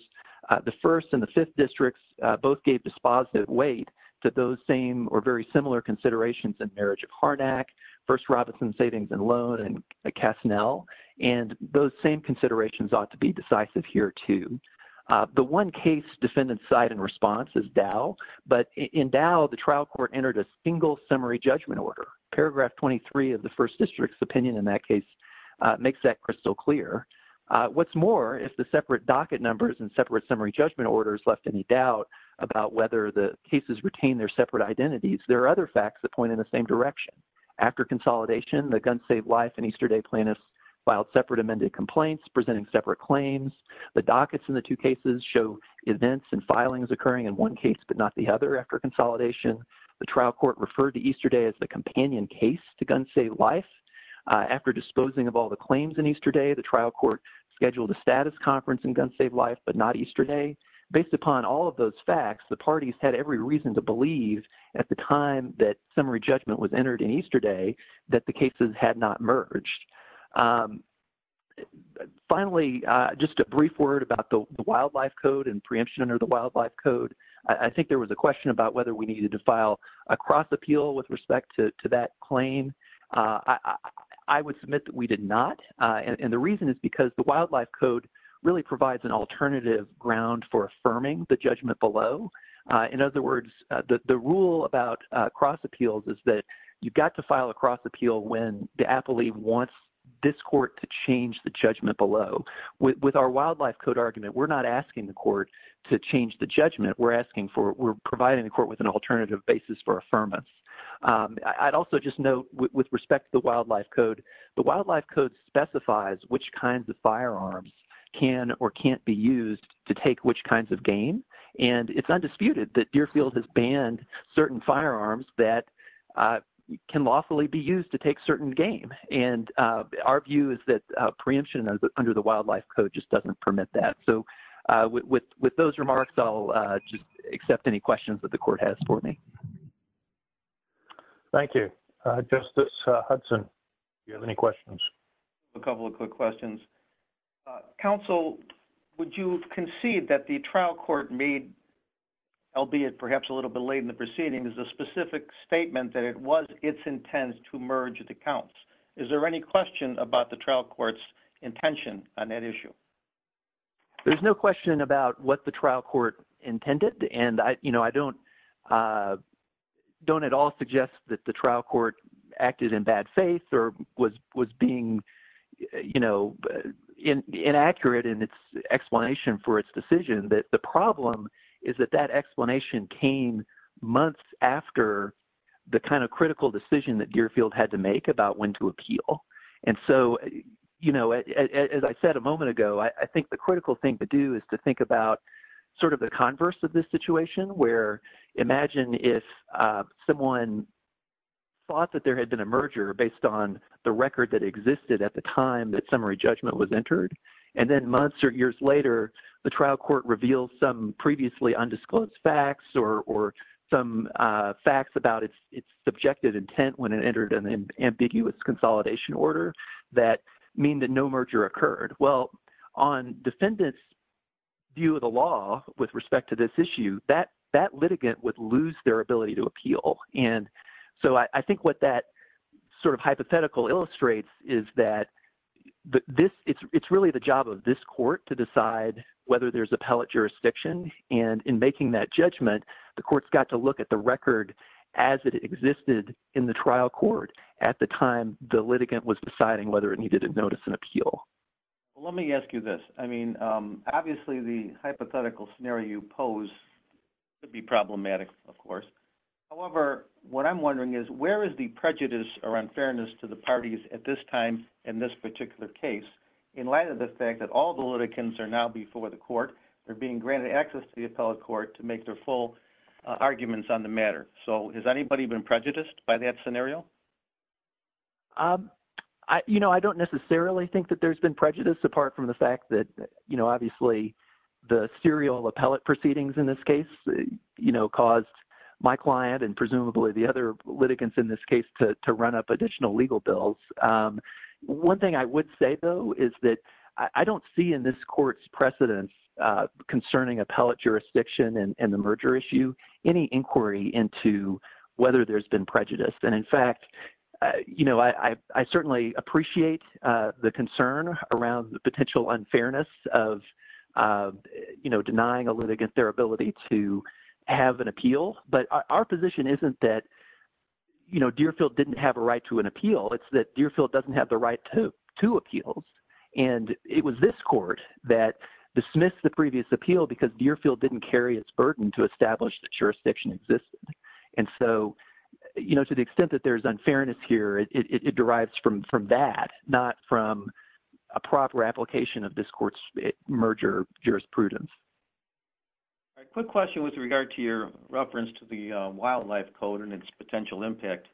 The First and the Fifth Districts both gave dispositive weight to those same or very similar considerations in Marriage at Harnack, First Robinson Savings and Loan, and at Kasnell. And those same considerations ought to be decisive here, too. The one case defendant's side and response is Dow, but in Dow, the trial court entered a single summary judgment order. Paragraph 23 of the First District's opinion in that case makes that crystal clear. What's more, if the separate docket numbers and separate summary judgment orders left any doubt about whether the cases retained their separate identities, there are other facts that point in the same direction. After consolidation, the Gun Save Life and Easterday plaintiffs filed separate amended complaints presenting separate claims. The dockets in the two cases show events and filings occurring in one case but not the other after consolidation. The trial court referred to Easterday as the companion case to Gun Save Life. After disposing of all the claims in Easterday, the trial court scheduled a status conference in Gun Save Life but not Easterday. Based upon all of those facts, the parties had every reason to believe at the time that summary judgment was entered in Easterday that the cases had not merged. Finally, just a brief word about the wildlife code and preemption under the wildlife code. I think there was a question about whether we needed to file a cross appeal with respect to that claim. I would submit that we did not, and the reason is because the wildlife code really provides an alternative ground for affirming the judgment below. In other words, the rule about cross appeals is that you've got to file a cross appeal if you want this court to change the judgment below. With our wildlife code argument, we're not asking the court to change the judgment. We're providing the court with an alternative basis for affirmance. I'd also just note with respect to the wildlife code, the wildlife code specifies which kinds of firearms can or can't be used to take which kinds of game. And it's undisputed that Deerfield has banned certain firearms that can lawfully be used to take certain game. Our view is that preemption under the wildlife code just doesn't permit that. With those remarks, I'll just accept any questions that the court has for me. Thank you. Justice Hudson, do you have any questions? A couple of quick questions. Counsel, would you concede that the trial court made, albeit perhaps a little bit late in the proceeding, is a specific statement that it was its intent to merge the counts? Is there any question about the trial court's intention on that issue? There's no question about what the trial court intended. And I don't at all suggest that the trial court acted in bad faith or was being inaccurate in its explanation for its decision. But the problem is that that explanation came months after the kind of critical decision that Deerfield had to make about when to appeal. And so, as I said a moment ago, I think the critical thing to do is to think about sort of the converse of this situation, where imagine if someone thought that there had been a merger based on the record that existed at the time that summary judgment was entered. And then months or years later, the trial court revealed some previously undisclosed facts or some facts about its subjective intent when it entered an ambiguous consolidation order that mean that no merger occurred. Well, on defendant's view of the law with respect to this issue, that litigant would lose their ability to appeal. And so I think what that sort of hypothetical illustrates is that it's really the job of this court to decide whether there's appellate jurisdiction. And in making that judgment, the court's got to look at the record as it existed in the trial court at the time the litigant was deciding whether it needed to notice an appeal. Well, let me ask you this. I mean, obviously the hypothetical scenario you pose could be problematic, of course. However, what I'm wondering is where is the prejudice or unfairness to the parties at this time in this particular case, in light of the fact that all the litigants are now before the court, they're being granted access to the appellate court to make their full arguments on the matter. So has anybody been prejudiced by that scenario? Um, you know, I don't necessarily think that there's been prejudice, apart from the fact that, you know, obviously the serial appellate proceedings in this case, you know, caused my client and presumably the other litigants in this case to run up additional legal bills. One thing I would say, though, is that I don't see in this court's precedence concerning appellate jurisdiction and merger issue any inquiry into whether there's been prejudice. And in fact, you know, I certainly appreciate the concern around the potential unfairness of, you know, denying a litigant their ability to have an appeal. But our position isn't that, you know, Deerfield didn't have a right to an appeal. It's that Deerfield doesn't have the right to appeal. And it was this court that dismissed the previous appeal because Deerfield didn't carry its burden to establish that jurisdiction existed. And so, you know, to the extent that there's unfairness here, it derives from that, not from a proper application of this court's merger jurisprudence. All right. Quick question with regard to your reference to the wildlife code and its potential impact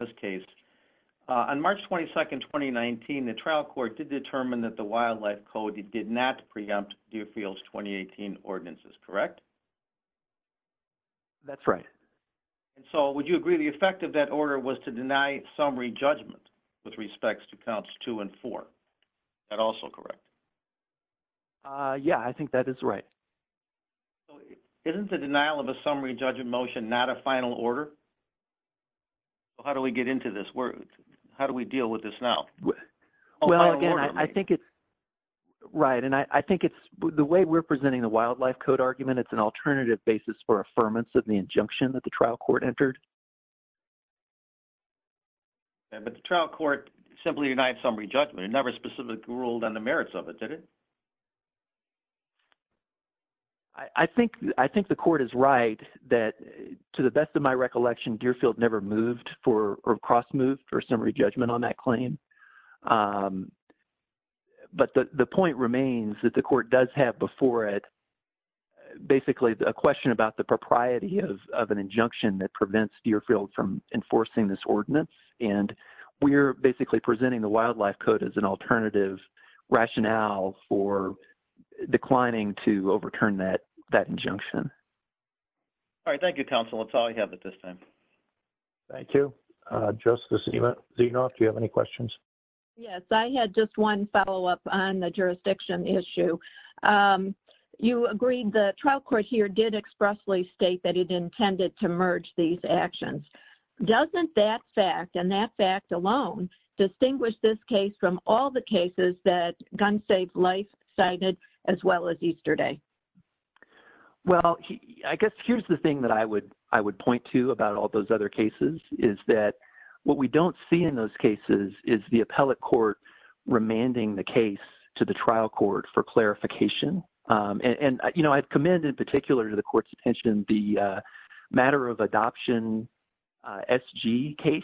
in this case. On March 22, 2019, the trial court did determine that the wildlife code did not preempt Deerfield's 2018 ordinances, correct? That's right. And so would you agree the effect of that order was to deny summary judgment with respects to counts two and four? That also correct? Yeah, I think that is right. Isn't the denial of a summary judgment motion not a final order? How do we get into this? How do we deal with this now? Well, again, I think it's right. And I think it's the way we're presenting the wildlife code argument. It's an alternative basis for affirmance of the injunction that the trial court entered. But the trial court simply denied summary judgment, never specifically ruled on the merits of it, did it? I think I think the court is right that to the best of my recollection, Deerfield never moved for or cross moved for summary judgment on that claim. But the point remains that the court does have before it basically a question about the propriety of an injunction that prevents Deerfield from enforcing this ordinance. And we're basically presenting the wildlife code as an alternative rationale for declining to overturn that that injunction. All right, thank you, counsel. That's all I have at this time. Thank you, Joseph. Do you know if you have any questions? Yes, I had just one follow up on the jurisdiction issue. You agreed the trial court here did expressly state that he'd intended to merge these actions. Doesn't that fact and that fact alone distinguish this case from all the cases that Gun Safe Life cited as well as yesterday? Well, I guess here's the thing that I would I would point to about all those other cases is that what we don't see in those cases is the appellate court remanding the case to the trial court for clarification. And, you know, I commend in particular to the court's attention, the matter of adoption S.G. case,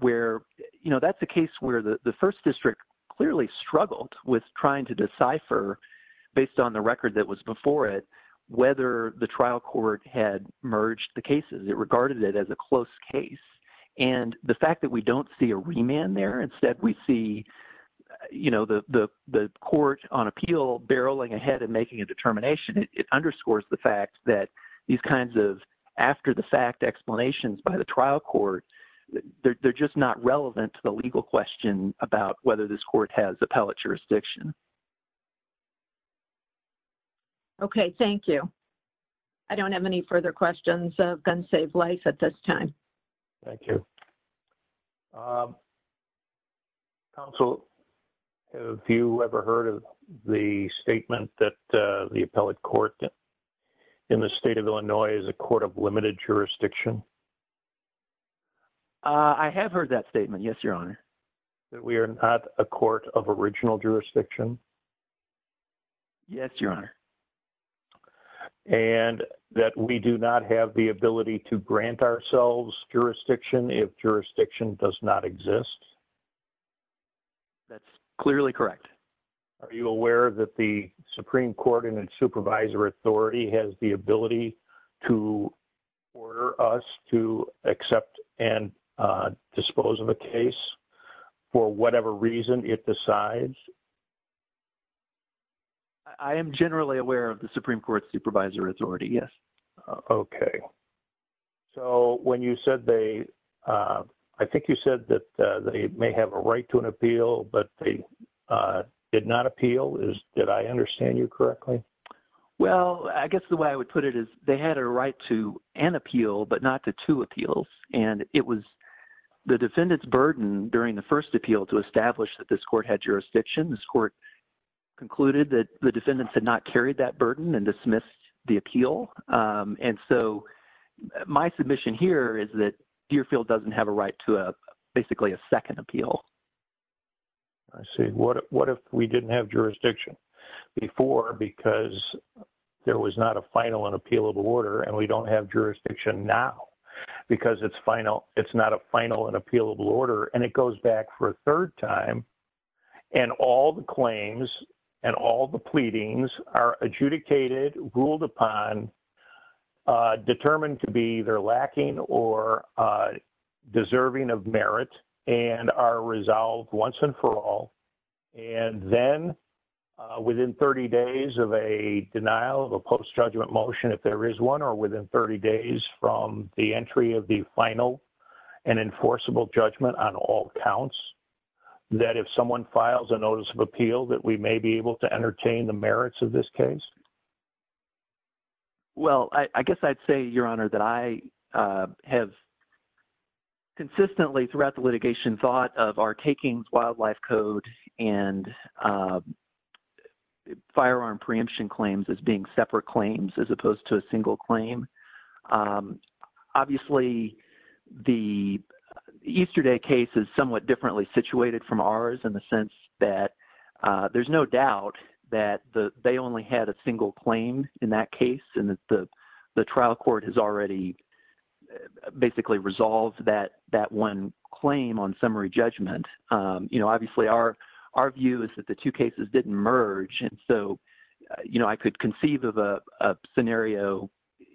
where, you know, that's the case where the first district clearly struggled with trying to decipher based on the record that was before it, whether the trial court had merged the cases. It regarded it as a close case. And the fact that we don't see a remand there, instead we see, you know, the court on appeal barreling ahead and making a determination. It underscores the fact that these kinds of after the fact explanations by the trial court, they're just not relevant to the legal question about whether this court has appellate jurisdiction. OK, thank you. I don't have any further questions of Gun Safe Life at this time. Thank you. Counsel, have you ever heard of the statement that the appellate court in the state of Illinois is a court of limited jurisdiction? I have heard that statement. Yes, Your Honor. That we are not a court of original jurisdiction? Yes, Your Honor. And that we do not have the ability to grant ourselves jurisdiction if jurisdiction does not exist? That's clearly correct. Are you aware that the Supreme Court and its supervisor authority has the ability to order us to accept and dispose of a case for whatever reason it decides? I am generally aware of the Supreme Court supervisor authority, yes. OK, so when you said they, I think you said that they may have a right to an appeal, but they did not appeal. Did I understand you correctly? Well, I guess the way I would put it is they had a right to an appeal, but not the two appeals. And it was the defendant's burden during the first appeal to establish that this court had jurisdiction. This court concluded that the defendant had not carried that burden and dismissed the appeal. And so my submission here is that Deerfield doesn't have a right to basically a second appeal. I see. What if we didn't have jurisdiction before because there was not a final and appealable order and we don't have jurisdiction now because it's not a final and appealable order and it goes back for a third time and all the claims and all the pleadings are adjudicated, ruled upon, determined to be either lacking or deserving of merit and are resolved once and for all. And then within 30 days of a denial of a post-judgment motion, if there is one, or within 30 days from the entry of the final and enforceable judgment on all counts, that if someone files a notice of appeal, that we may be able to entertain the merits of this case. Well, I guess I'd say, Your Honor, that I have consistently throughout the litigation thought of our takings, wildlife code and firearm preemption claims as being separate claims as opposed to a single claim. Obviously, the Easter Day case is somewhat differently situated from ours in the sense that there's no doubt that they only had a single claim in that case and that the trial court has already basically resolved that one claim on summary judgment. Obviously, our view is that the two cases didn't merge and so I could conceive of a scenario,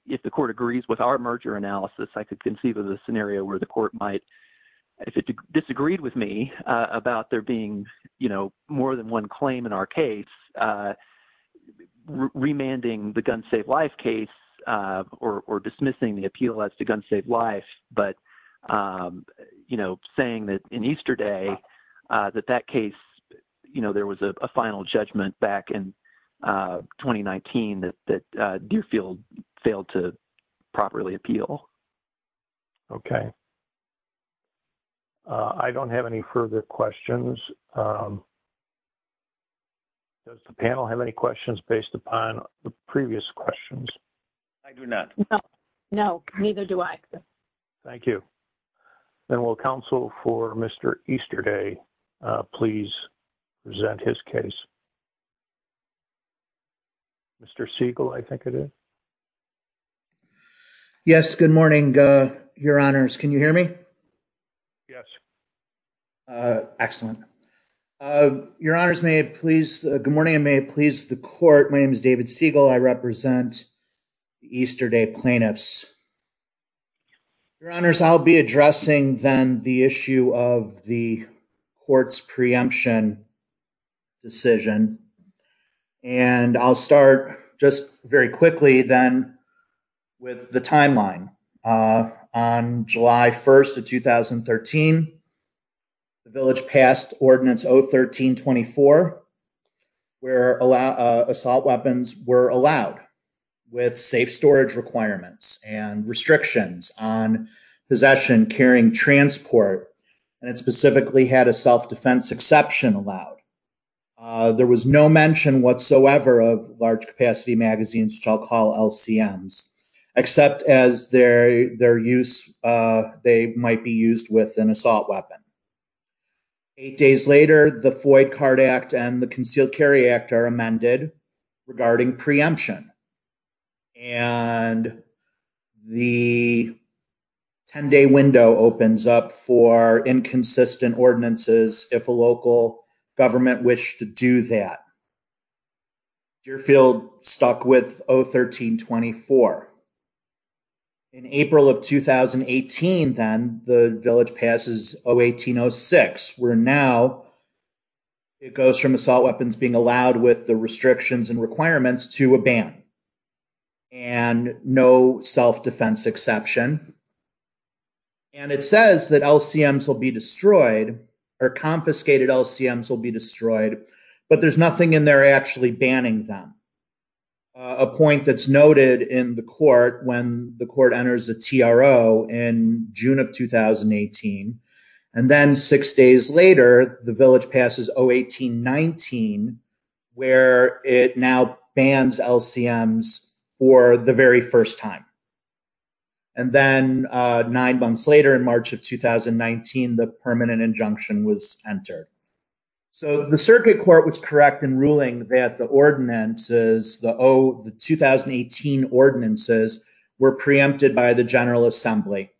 if the court agrees with our merger analysis, I could conceive of a scenario where the court might, if it disagreed with me about there being more than one claim in our case, remanding the Guns Save Lives case or dismissing the appeal as to Guns Save Lives, but saying that in Easter Day, that that case, there was a final judgment back in 2019 that Deerfield failed to properly appeal. Okay. I don't have any further questions. Does the panel have any questions based upon the previous questions? I do not. No, neither do I. Thank you. And will counsel for Mr. Easter Day, please present his case. Mr. Siegel, I think it is. Yes, good morning, your honors. Can you hear me? Yes. Excellent. Your honors, may it please, good morning, may it please the court. My name is David Siegel. I represent Easter Day plaintiffs. Your honors, I'll be addressing then the issue of the court's preemption decision. And I'll start just very quickly then with the timeline. On July 1st of 2013, the village passed ordinance 013-24, where assault weapons were allowed with safe storage requirements and restrictions on possession carrying transport. And it specifically had a self-defense exception allowed. There was no mention whatsoever of large capacity magazines, which I'll call LCMs, except as their use, they might be used with an assault weapon. Eight days later, the Foy Card Act and the Concealed Carry Act are amended regarding preemption. And the 10-day window opens up for inconsistent ordinances if a local government wished to do that. Deerfield stuck with 013-24. In April of 2018, then the village passes 018-06, where now it goes from assault weapons being allowed with the restrictions and requirements to a ban. And no self-defense exception. And it says that LCMs will be destroyed, or confiscated LCMs will be destroyed, but there's nothing in there actually banning them. A point that's noted in the court when the court enters a TRO in June of 2018. And then six days later, the village passes 018-19, where it now bans LCMs for the very first time. And then nine months later, in March of 2019, the permanent injunction was entered. So the circuit court was correct in ruling that the ordinances, the 2018 ordinances, were preempted by the General Assembly.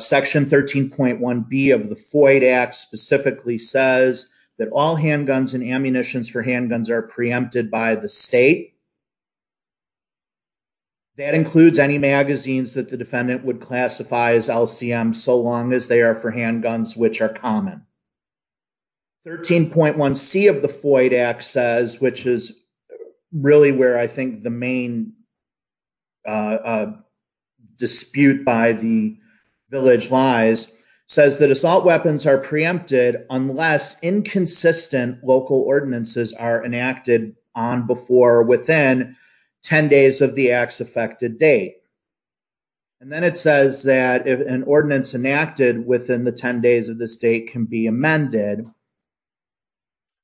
Section 13.1b of the Floyd Act specifically says that all handguns and ammunitions for handguns are preempted by the state. That includes any magazines that the defendant would classify as LCMs so long as they are for handguns, which are common. 13.1c of the Floyd Act says, which is really where I think the main dispute by the village lies, says that assault weapons are preempted unless inconsistent local ordinances are enacted on, before, or within 10 days of the act's effected date. And then it says that if an ordinance enacted within the 10 days of this date can be amended.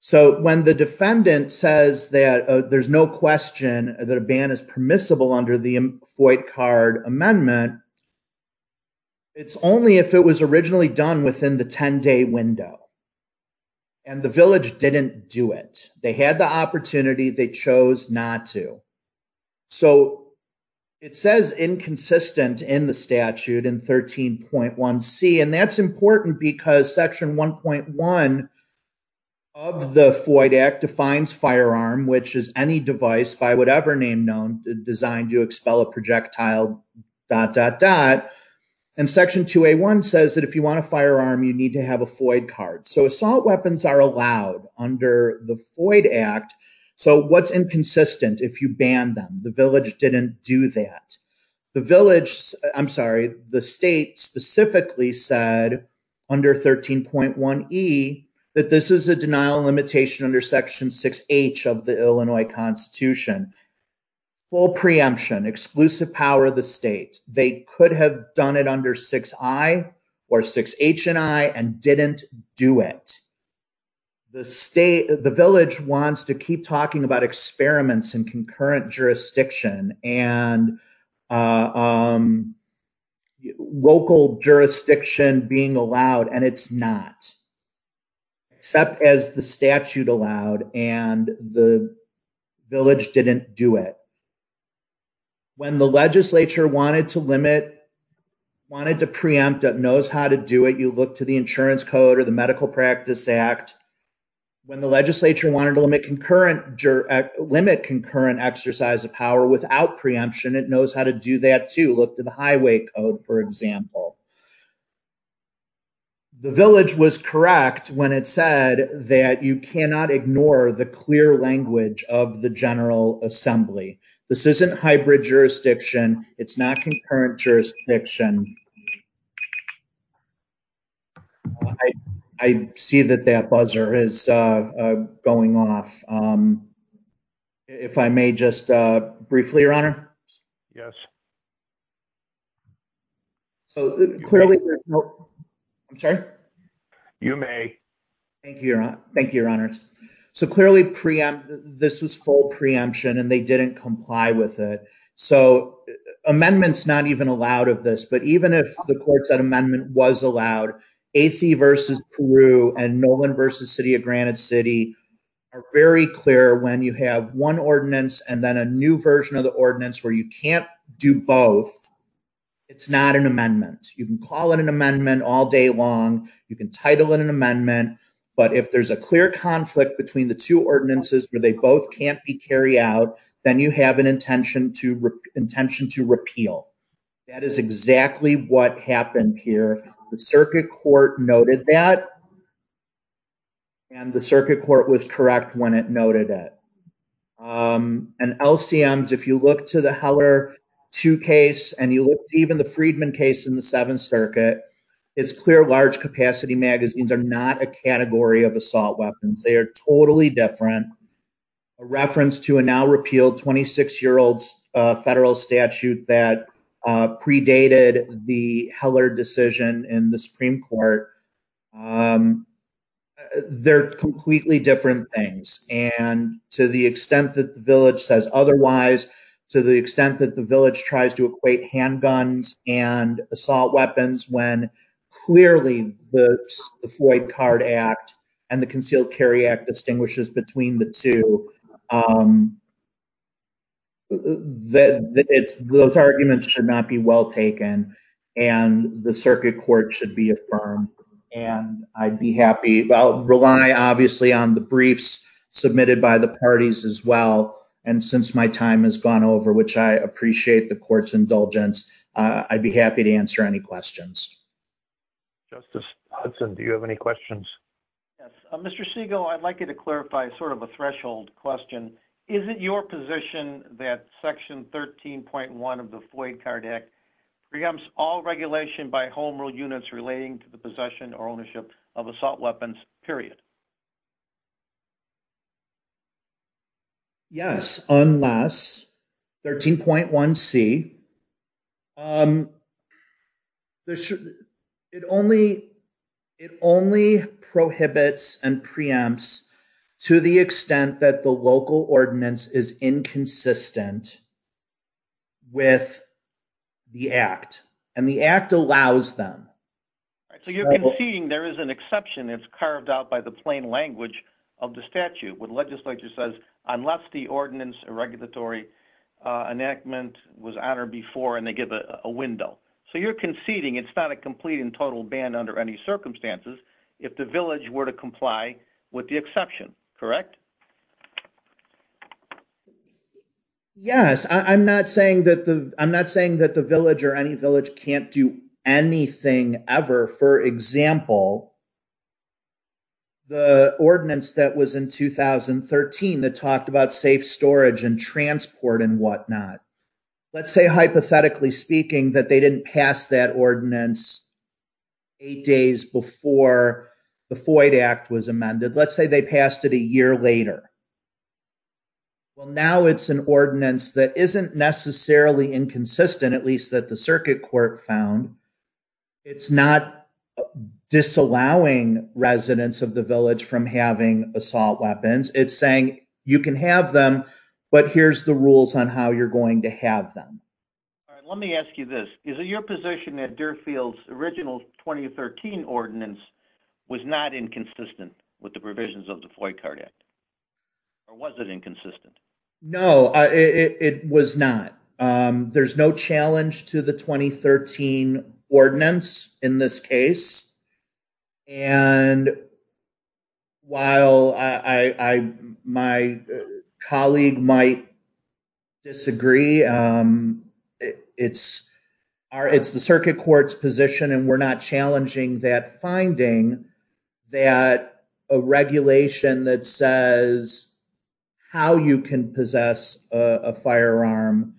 So when the defendant says that there's no question that a ban is permissible under the Floyd card amendment, it's only if it was originally done within the 10 day window. And the village didn't do it. They had the opportunity, they chose not to. So it says inconsistent in the statute in 13.1c, and that's important because section 1.1 of the Floyd Act defines firearm, which is any device by whatever name known, designed to expel a projectile, dot, dot, dot. And section 2A1 says that if you want a firearm, you need to have a Floyd card. So assault weapons are allowed under the Floyd Act. So what's inconsistent if you ban them? The village didn't do that. The village, I'm sorry, the state specifically said under 13.1e that this is a denial limitation under section 6H of the Illinois Constitution. Full preemption, exclusive power of the state. They could have done it under 6I or 6H&I and didn't do it. The state, the village wants to keep talking about experiments in concurrent jurisdiction and local jurisdiction being allowed, and it's not. Except as the statute allowed and the village didn't do it. When the legislature wanted to limit, wanted to preempt, it knows how to do it. You look to the insurance code or the Medical Practice Act. When the legislature wanted to limit concurrent exercise of power without preemption, it knows how to do that too. Look to the highway code, for example. The village was correct when it said that you cannot ignore the clear language of the General Assembly. This isn't hybrid jurisdiction. It's not concurrent jurisdiction. I see that that buzzer is going off. If I may just briefly, Your Honor. Yes. Clearly, there's no... I'm sorry? You may. Thank you, Your Honor. Clearly, this is full preemption and they didn't comply with it. Amendments not even allowed of this, but even if the courts that amendment was allowed, AC versus Peru and Nolan versus City of Granite City are very clear when you have one ordinance and then a new version of the ordinance where you can't do it both. It's not an amendment. You can call it an amendment all day long. You can title it an amendment. But if there's a clear conflict between the two ordinances where they both can't be carried out, then you have an intention to repeal. That is exactly what happened here. The circuit court noted that when it noted it. And LCMs, if you look to the Heller two case and you look even the Friedman case in the Seventh Circuit, it's clear large capacity magazines are not a category of assault weapons. They are totally different. A reference to a now repealed 26-year-old federal statute that predated the Heller decision in the Supreme Court. They're completely different things. And to the extent that the village says otherwise, to the extent that the village tries to equate handguns and assault weapons when clearly the Floyd Card Act and the Concealed Carry Act distinguishes between the two, those arguments should not be well taken. And the circuit court should be affirmed. And I'd be happy. I'll rely obviously on the briefs submitted by the parties as well. And since my time has gone over, which I appreciate the court's indulgence, I'd be happy to answer any questions. Justice Hudson, do you have any questions? Yes, Mr. Segal, I'd like you to clarify sort of a threshold question. Is it your position that section 13.1 of the Floyd Card Act preempts all regulation by home rule units relating to the possession or ownership of assault weapons, period? Yes, unless 13.1c, it only prohibits and preempts to the extent that the local ordinance is inconsistent with the act. And the act allows them. So you can see there is an exception. It's carved out by the board. Plain language of the statute with legislature says, unless the ordinance or regulatory enactment was honored before and they give a window. So you're conceding it's not a complete and total ban under any circumstances. If the village were to comply with the exception, correct? Yes, I'm not saying that the village or any village can't do anything ever. For example, the ordinance that was in 2013, that talked about safe storage and transport and whatnot. Let's say hypothetically speaking that they didn't cast that ordinance eight days before the Floyd Act was amended. Let's say they passed it a year later. Well, now it's an ordinance that isn't necessarily inconsistent, at least that the circuit court found. It's not disallowing residents of the village from having assault weapons. It's saying you can have them, but here's the rules on how you're going to have them. Let me ask you this. Is it your position that Deerfield's original 2013 ordinance was not inconsistent with the provisions of the Floyd Card Act? Or was it inconsistent? No, it was not. There's no challenge to the 2013 ordinance in this case. While my colleague might disagree, it's the circuit court's position, and we're not challenging that finding that a regulation that says how you can possess a firearm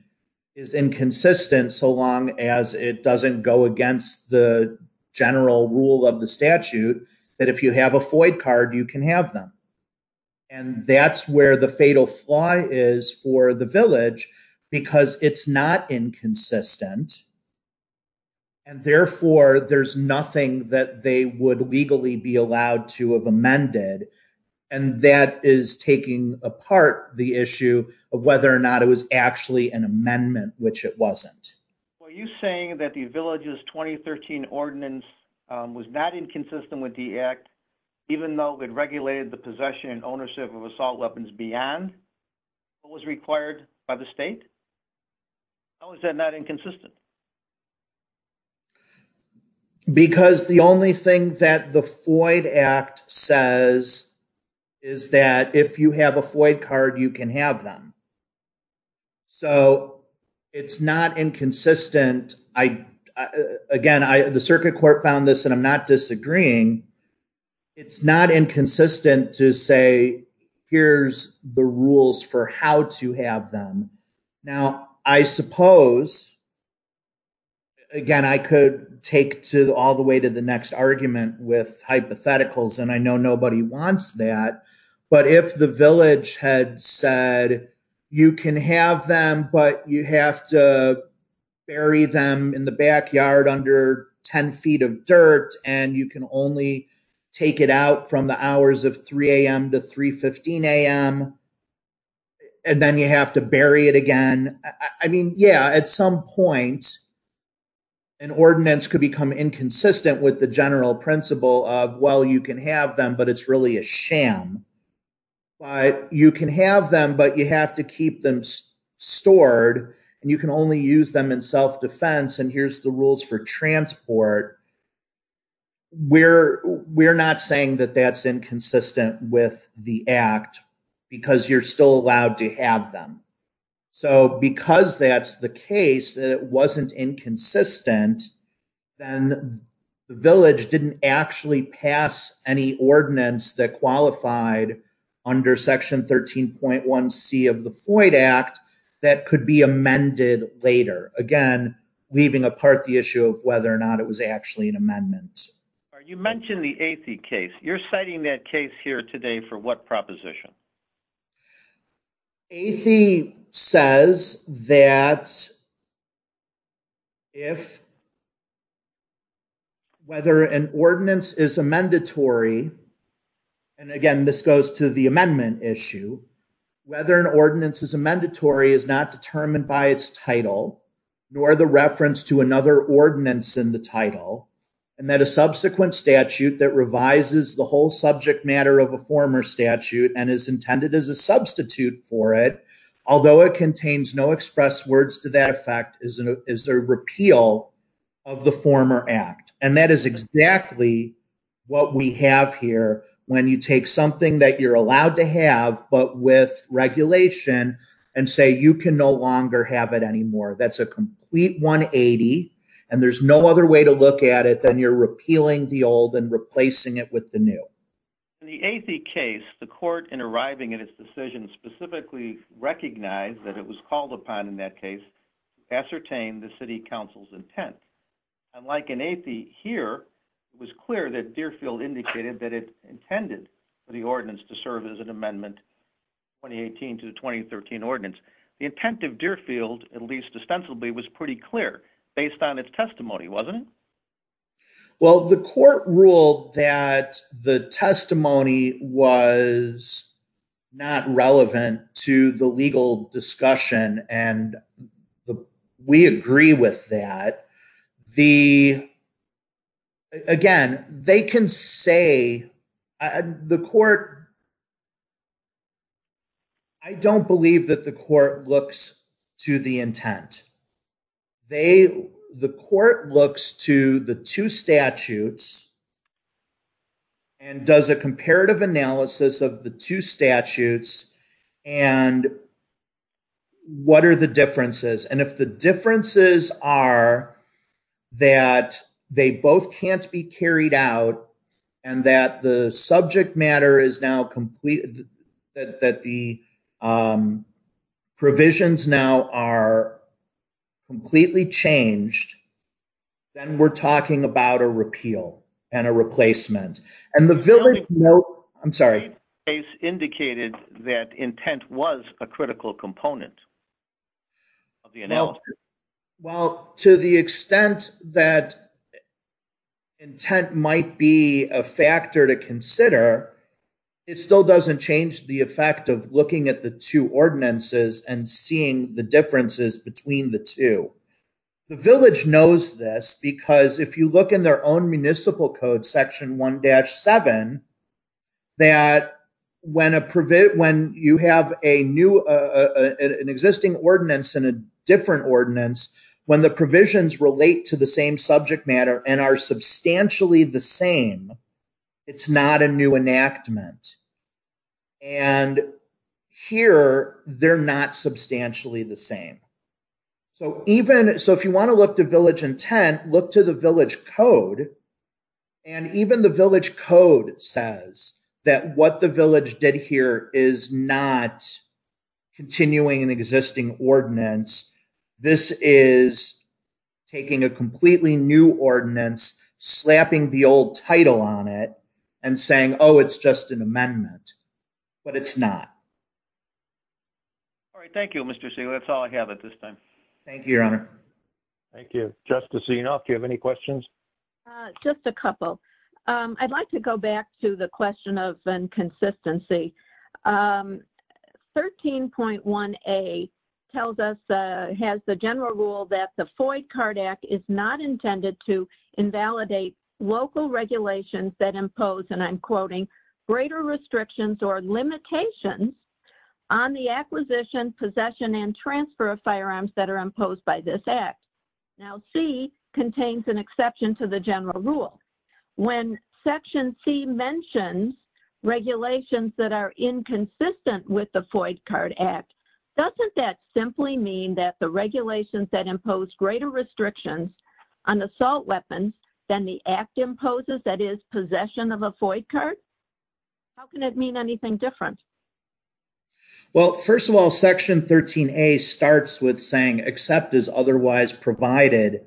is inconsistent so long as it doesn't go against the general rule of the statute, that if you have a Floyd card, you can have them. And that's where the fatal flaw is for the village because it's not inconsistent. And therefore there's nothing that they would legally be allowed to have amended. And that is taking apart the issue of whether or not it was actually an amendment, which it wasn't. Were you saying that the village's 2013 ordinance was not inconsistent with the act even though it regulated the possession and ownership of assault weapons beyond what was required by the state? How is that not inconsistent? Because the only thing that the Floyd Act says is that if you have a Floyd card, you can have them. So it's not inconsistent. Again, the circuit court found this and I'm not disagreeing. It's not inconsistent to say, here's the rules for how to have them. Now, I suppose, again, I could take to all the way to the next argument with hypotheticals, and I know nobody wants that. But if the village had said, you can have them, but you have to bury them in the backyard under 10 feet of dirt, and you can only take it out from the hours of 3 a.m. to 3.15 a.m., and then you have to bury it again. I mean, yeah, at some point, an ordinance could become inconsistent with the general principle of, well, you can have them, but it's really a sham. But you can have them, but you have to keep them stored, and you can only use them in self-defense, and here's the rules for transport. We're not saying that that's inconsistent with the act, because you're still allowed to have them. So because that's the case, that it wasn't inconsistent, then the village didn't actually pass any ordinance that qualified under Section 13.1c of the FOID Act that could be amended later. Again, leaving apart the issue of whether or not it was actually an amendment. You mentioned the Athe case. You're citing that case here today for what proposition? Athe says that if whether an ordinance is a mandatory, and again, this goes to the amendment issue, whether an ordinance is a mandatory is not determined by its title, nor the reference to another ordinance in the title, and that a subsequent statute that revises the whole subject matter of a former statute and is intended as a substitute for it, although it contains no express words to that effect, is a repeal of the former act, and that is exactly what we have here when you take something that you're allowed to have, but with regulation and say, you can no longer have it anymore. That's a complete 180, and there's no other way to look at it than you're repealing the old and replacing it with the new. In the Athe case, the court in arriving at its decision specifically recognized that it was called upon in that case to ascertain the city council's intent. Unlike in Athe here, it was clear that Deerfield indicated that it intended for the ordinance to serve as an amendment 2018 to 2013 ordinance. The intent of Deerfield, at least ostensibly, was pretty clear based on its testimony, wasn't it? Well, the court ruled that the testimony was not relevant to the legal discussion, and we agree with that. The, again, they can say the court, I don't believe that the court looks to the intent. The court looks to the two statutes and does a comparative analysis of the two statutes and what are the differences, and if the differences are that they both can't be carried out and that the subject matter is now complete, that the provisions now are completely changed, then we're talking about a repeal and a replacement. And the village, I'm sorry. The case indicated that intent was a critical component of the analysis. Well, to the extent that intent might be a factor to consider, it still doesn't change the effect of looking at the two ordinances and seeing the differences between the two. The village knows this because if you look in their own municipal code, section 1-7, that when you have an existing ordinance and a different ordinance, when the provisions relate to the same subject matter and are substantially the same, it's not a new enactment. And here, they're not substantially the same. So if you want to look to village intent, look to the village code. And even the village code says that what the village did here is not continuing an existing ordinance. This is taking a completely new ordinance, slapping the old title on it and saying, oh, it's just an amendment. But it's not. All right. Thank you, Mr. Seeley. That's all I have at this time. Thank you, Your Honor. Thank you. Justice Enoff, do you have any questions? Just a couple. I'd like to go back to the question of inconsistency. 13.1A tells us, has the general rule that the Floyd-Cardack is not intended to invalidate local regulations that impose, and I'm quoting, greater restrictions or limitations on the acquisition, possession, and transfer of firearms that are imposed by this act. Now, C contains an exception to the general rule. When Section C mentions regulations that are inconsistent with the Floyd-Cardack, doesn't that simply mean that the regulations that impose greater restrictions on assault weapons than the act imposes, that is, possession of a Floyd-Card? How can it mean anything different? Well, first of all, Section 13.A starts with saying, except as otherwise provided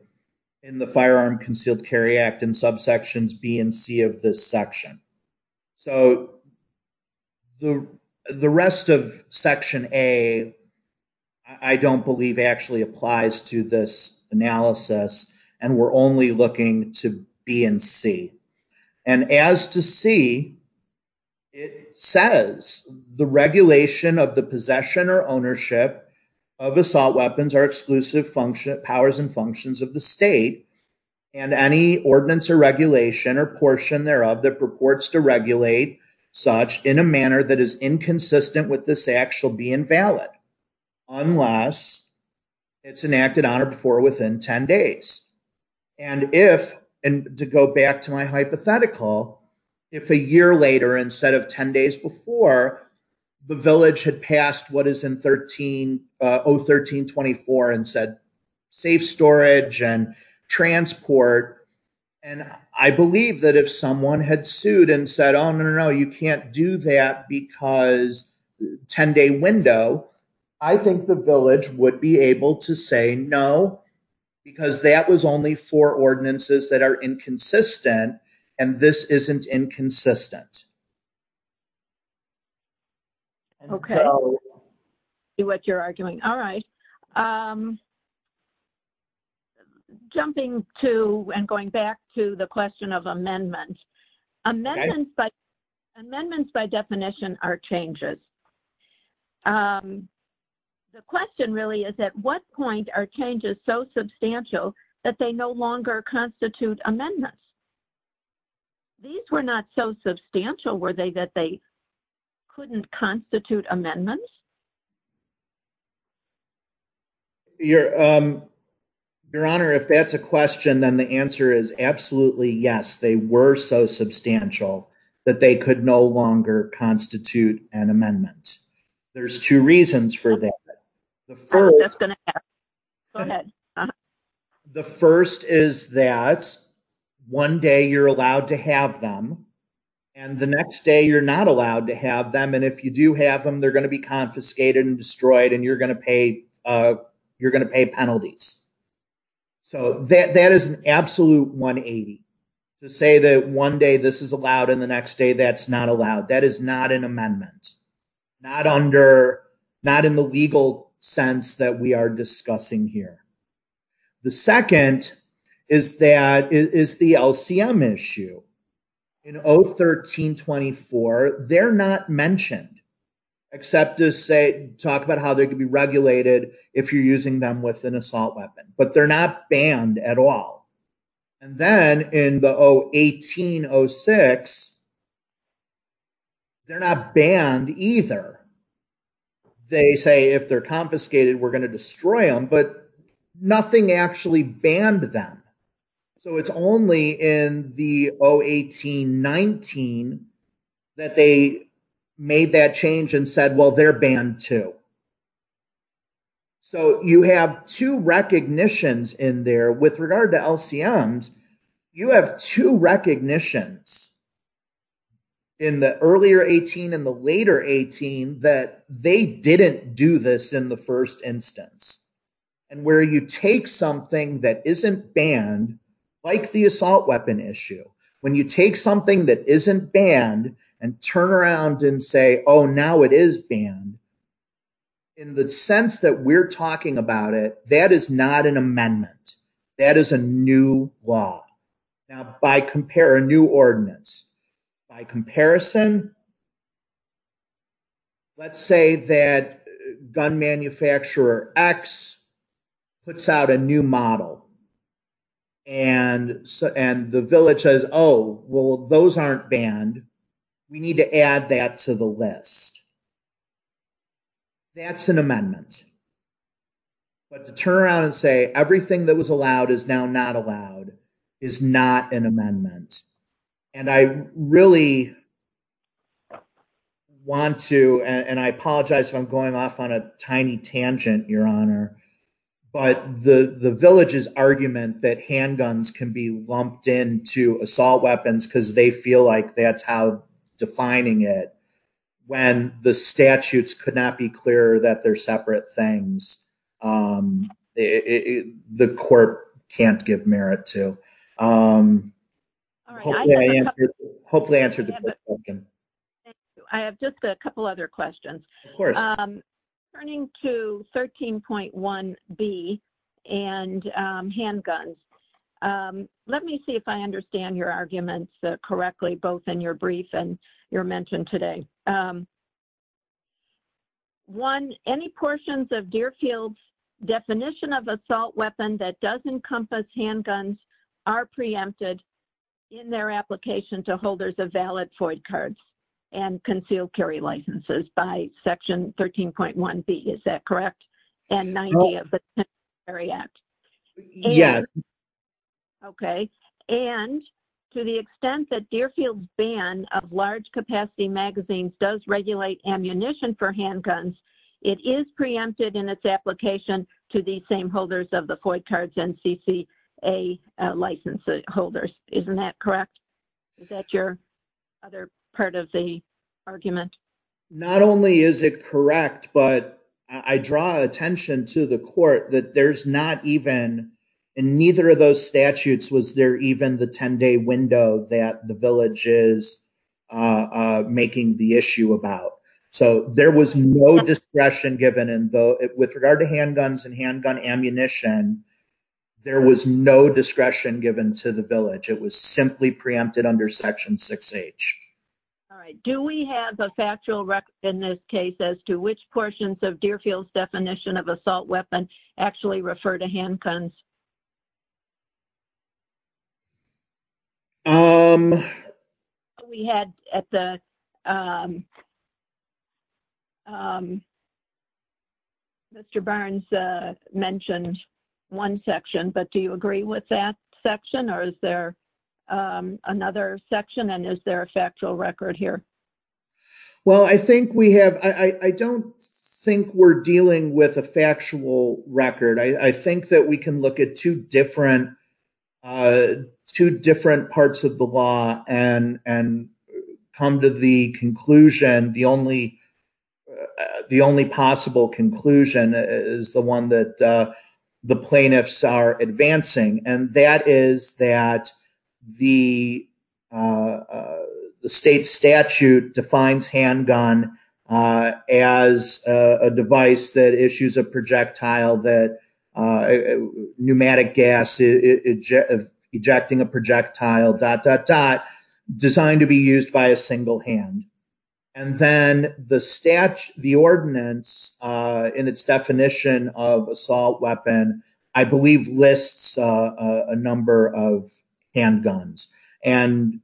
in the Firearm Concealed Carry Act in subsections B and C of this section. So the rest of Section A, I don't believe, actually applies to this analysis, and we're only looking to B and C. And as to C, it says, the regulation of the possession or ownership of assault weapons are exclusive powers and functions of the state, and any ordinance or regulation or portion thereof that purports to regulate such in a manner that is inconsistent with this act shall be invalid unless it's enacted on or before within 10 days. And if, and to go back to my hypothetical, if a year later instead of 10 days before, the village had passed what is in O1324 and said safe storage and transport, and I believe that if someone had sued and said, oh, no, no, no, you can't do that because 10-day window, I think the village would be able to say no because that was only four ordinances that are inconsistent, and this isn't inconsistent. Okay. I see what you're arguing. All right. Jumping to and going back to the question of amendments. Amendments by definition are changes. The question really is at what point are changes so substantial that they no longer constitute amendments? These were not so substantial, were they, that they couldn't constitute amendments? Your Honor, if that's a question, then the answer is absolutely, yes, they were so substantial that they could no longer constitute an amendment. There's two reasons for that. The first is that one day you're allowed to have them, and the next day you're not allowed to have them, and if you do have them, they're going to be confiscated and destroyed, and you're going to pay penalties. So that is an absolute 180 to say that one day this is allowed, and the next day that's not allowed. That is not an amendment. Not in the legal sense that we are discussing here. The second is the LCM issue. In 013-24, they're not mentioned except to talk about how they could be regulated if you're using them as an assault weapon, but they're not banned at all. And then in the 018-06, they're not banned either. They say if they're confiscated, we're going to destroy them, but nothing actually banned them. So it's only in the 018-19 that they made that change and said, well, they're banned too. So you have two recognitions in there. With regard to LCMs, you have two recognitions in the earlier 18 and the later 18 that they didn't do this in the first instance. And where you take something that isn't banned, like the assault weapon issue, when you take something that isn't banned and turn around and say, oh, now it is banned, in the sense that we're talking about it, that is not an amendment. That is a new law. Now, by compare, a new ordinance, by comparison, let's say that gun manufacturer X puts out a new model and the village says, oh, well, those aren't banned. We need to add that to the list. That's an amendment. But to turn around and say, everything that was allowed is now not allowed is not an amendment. And I really want to, and I apologize if I'm going off on a tiny tangent, Your Honor, but the village's argument that handguns can be lumped into assault weapons because they feel like that's how defining it when the statutes could not be clear that they're separate things, the court can't give merit to. Hopefully I answered the question. Thank you. I have just a couple other questions. Turning to 13.1B and handguns, let me see if I understand your arguments correctly, both in your brief and your mention today. One, any portions of Deerfield's definition of assault weapon that does encompass handguns are preempted in their application to holders of valid FOIA cards and concealed carry licenses by section 13.1B, is that correct? And 90 of the Penalty Carry Act. Yes. Okay. And to the extent that Deerfield's ban of large capacity magazines does regulate ammunition for handguns, it is preempted in its application to the same holders of the FOIA cards and CCA license holders. Isn't that correct? Is that your other part of the argument? Not only is it correct, but I draw attention to the court that there's not even, in neither of those statutes, was there even the 10-day window that the village is making the issue about. So there was no discretion given and with regard to handguns and handgun ammunition, there was no discretion given to the village. It was simply preempted under section 6H. All right. Do we have a factual record in this case as to which portions of Deerfield's definition of assault weapon actually refer to handguns? We had at the... Mr. Barnes mentioned one section, but do you agree with that section or is there another section and is there a factual record here? Well, I think we have... I don't think we're dealing the actual records and see if there's a factual record. I think we're dealing with two different parts of the law and come to the conclusion, the only possible conclusion is the one that the plaintiffs are advancing and that is that the state statute defines handgun as a device that issues a projectile that pneumatic gas ejecting a projectile dot, dot, dot, designed to be used by a single hand. And then the statute, the ordinance in its definition of assault weapon, I believe lists a number of handguns. And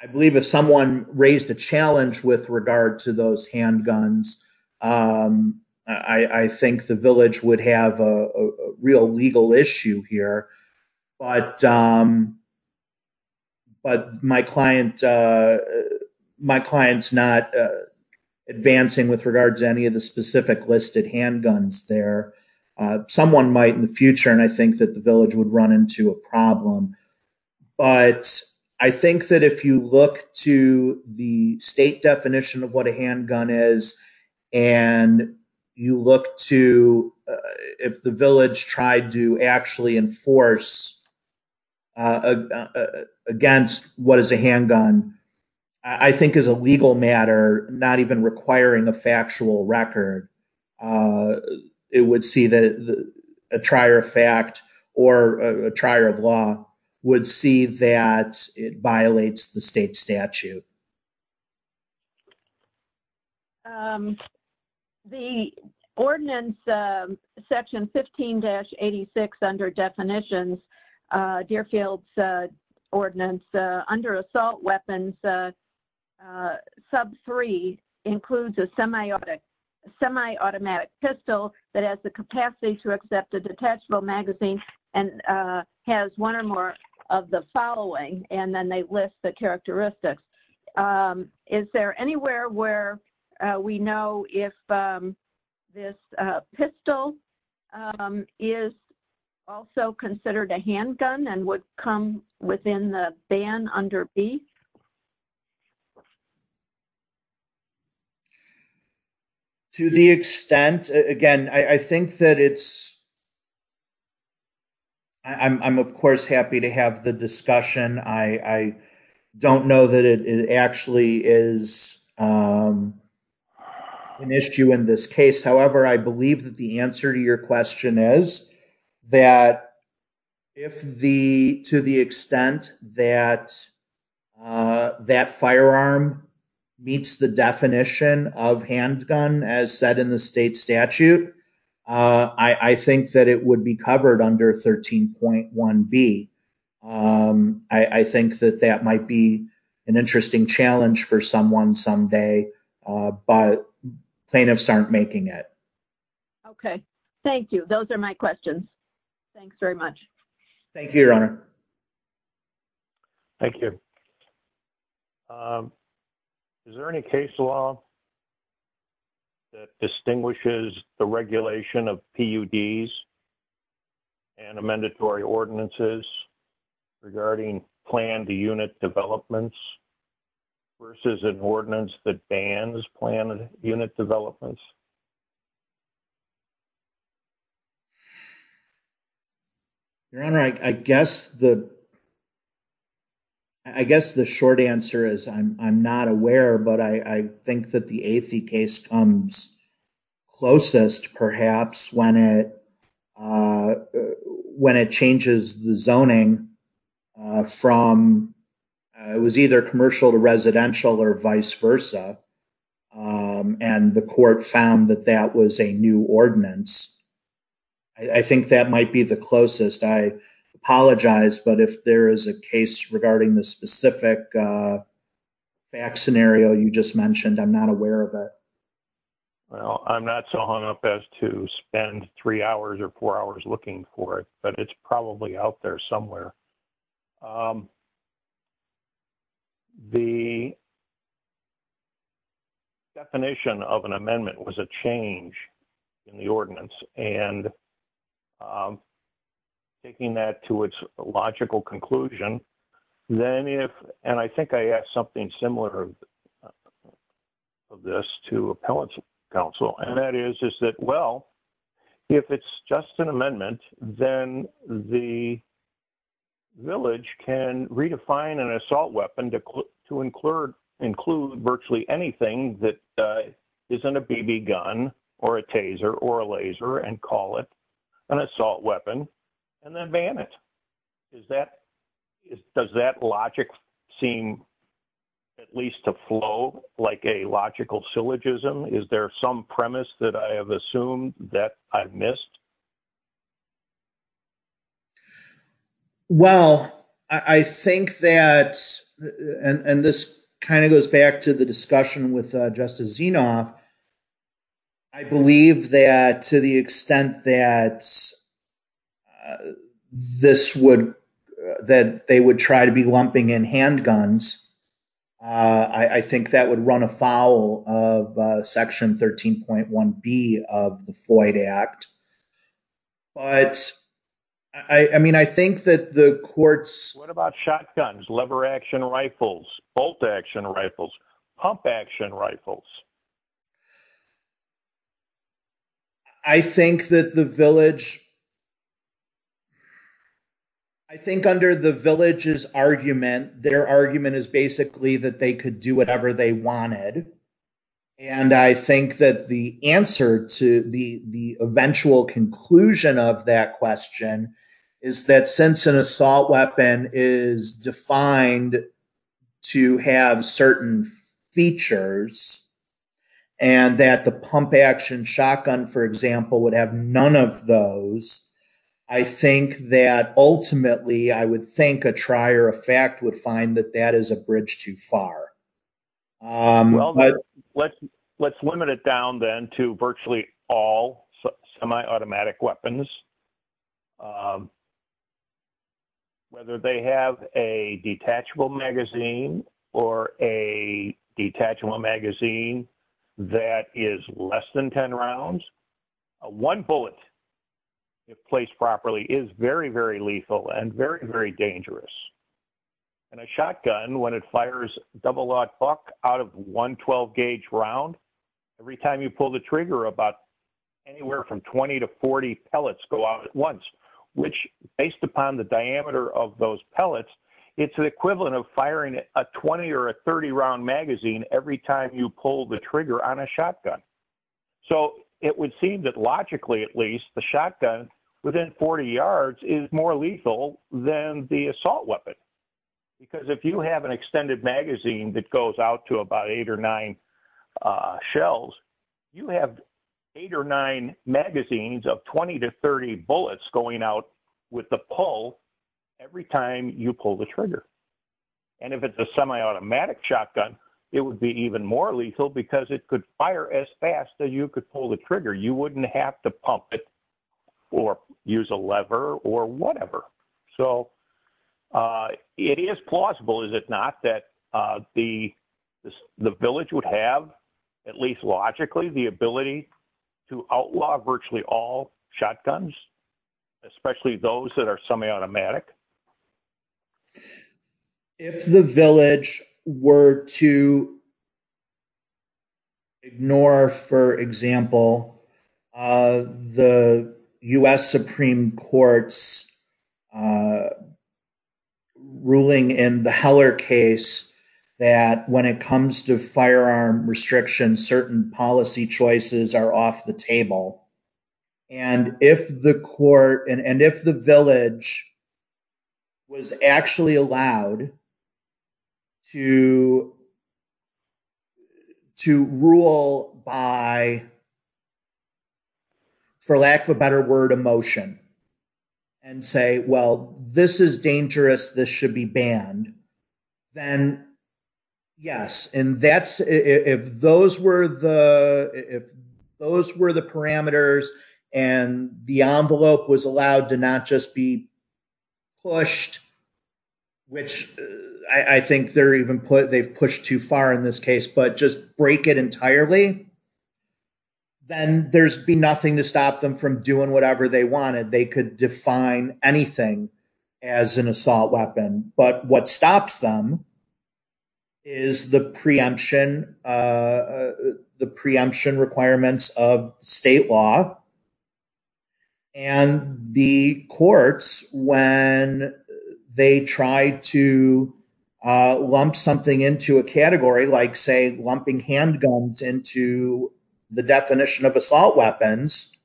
I believe if someone raised a challenge with regard to those handguns, I think the village would have a real legal issue here. But my client's not advancing with regards to any of the specific listed handguns there. Someone might in the future and I think that the village would run into a problem. But I think that if you look to the state definition of what a handgun is and you look to if the village tried to actually enforce against what is a handgun, I think as a legal matter, not even requiring a factual record, it would see that a trier of fact or a trier of law would see that it violates the state statute. The ordinance section 15-86 under definitions, Deerfield's ordinance under assault weapons sub three includes a semi-automatic pistol that has the capacity to accept a detachable magazine and has one or more of the following. And then they list the characteristics. Is there anywhere where we know if this pistol is also considered a handgun and would come within the ban under B? To the extent, again, I think that it's, I'm of course happy to have the discussion. I don't know that it actually is an issue in this case. However, I believe that the answer to your question is that if the, to the extent that that firearm meets the definition of handgun as set in the state statute, I think that it would be covered under 13.1B. I think that that might be an interesting challenge for someone someday, but plaintiffs aren't making it. Okay. Thank you. Those are my questions. Thanks very much. Thank you, Your Honor. Thank you. Is there any case law that distinguishes the regulation of PUDs and amended for ordinances? Regarding plan to unit developments versus an ordinance that bans plan and unit developments? Your Honor, I guess the, I guess the short answer is I'm not aware, but I think that the AFI case comes closest perhaps when it, when it changes the zoning from, it was either commercial to residential or vice versa. And the court found that that was a new ordinance. I think that might be the closest. I apologize, but if there is a case regarding the specific back scenario you just mentioned, I'm not aware of it. Well, I'm not so hung up as to spend three hours or four hours looking for it, but it's probably out there somewhere. The definition of an amendment was a change in the ordinance and taking that to its logical conclusion. Then if, and I think I asked something similar of this to appellate counsel, and that is, is that, well, if it's just an amendment, then the village can redefine an assault weapon to include virtually anything that isn't a BB gun or a taser or a laser and call it an assault weapon and then ban it. Is that, does that logic seem at least to flow like a logical syllogism? Is there some premise that I have assumed that I've missed? Well, I think that, and this kind of goes back to the discussion with Justice Zinoff, I believe that to the extent that this would, that they would try to be lumping in handguns, I think that would run afoul of section 13.1B of the Floyd Act. But I mean, I think that the courts- What about shotguns, lever action rifles, bolt action rifles, pump action rifles? I think that the village, I think under the village's argument, their argument is basically that they could do whatever they wanted. And I think that the answer to the eventual conclusion of that question is that since an assault weapon is defined to have certain features and that the pump action shotgun, for example, would have none of those, I think that ultimately I would think a trier effect would find that that is a bridge too far. Well, let's limit it down then to virtually all semi-automatic weapons. Whether they have a detachable magazine or a detachable magazine that is less than 10 rounds, one bullet placed properly is very, very lethal and very, very dangerous. And a shotgun, when it fires double lock buck out of one 12-gauge round, every time you pull the trigger about anywhere from 20 to 40 pellets go out at once, which based upon the diameter of those pellets, it's an equivalent of firing a 20 or a 30-round magazine every time you pull the trigger on a shotgun. So it would seem that logically at least the shotgun within 40 yards is more lethal than the assault weapon. Because if you have an extended magazine that goes out to about eight or nine shells, you have eight or nine magazines of 20 to 30 bullets going out with the pull every time you pull the trigger. And if it's a semi-automatic shotgun, it would be even more lethal because it could fire as fast that you could pull the trigger. You wouldn't have to pump it or use a lever or whatever. So it is plausible, is it not, that the village would have, at least logically, the ability to outlaw virtually all shotguns, especially those that are semi-automatic? If the village were to ignore, for example, the U.S. Supreme Court's ruling in the Heller case that when it comes to firearm restrictions, certain policy choices are off the table. And if the court and if the village was actually allowed to rule by, for lack of a better word, emotion and say, well, this is dangerous, this should be banned, then yes. And if those were the parameters and the envelope was allowed to not just be pushed, which I think they've pushed too far in this case, but just break it entirely, then there'd be nothing to stop them from doing whatever they wanted. They could define anything as an assault weapon. But what stops them is the preemption requirements of state law. And the courts, when they try to lump something into a category, like, say, lumping handguns into the definition of assault weapons,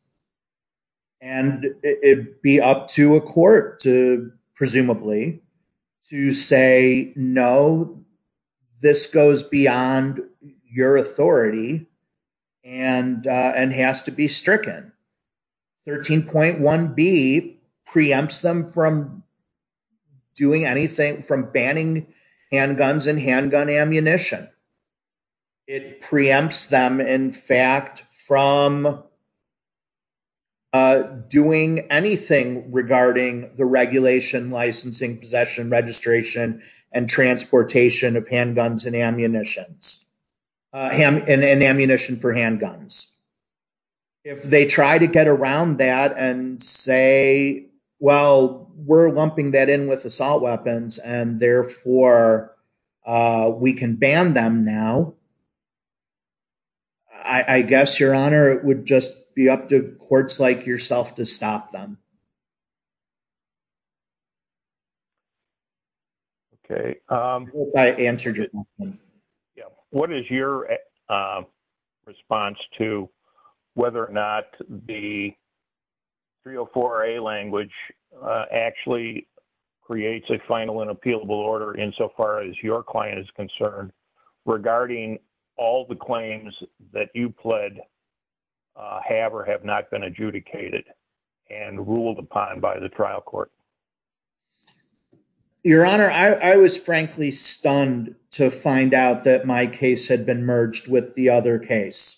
and it'd be up to a court to presumably to say, no, this goes beyond your authority and has to be stricken. 13.1b preempts them from doing anything, from banning handguns and handgun ammunition. It preempts them, in fact, from doing anything regarding the regulation, licensing, possession, registration, and transportation of handguns and ammunition for handguns. If they try to get around that and say, well, we're lumping that in with assault weapons and therefore we can ban them now, I guess, Your Honor, it would just be up to courts like yourself to stop them. Okay. I hope that answered your question. Yeah. What is your response to whether or not the 304a language actually creates a final and appealable order insofar as your client is concerned regarding all the claims that you pled have or have not been adjudicated and ruled upon by the trial court? Your Honor, I was frankly stunned to find out that my case had been merged with the other case.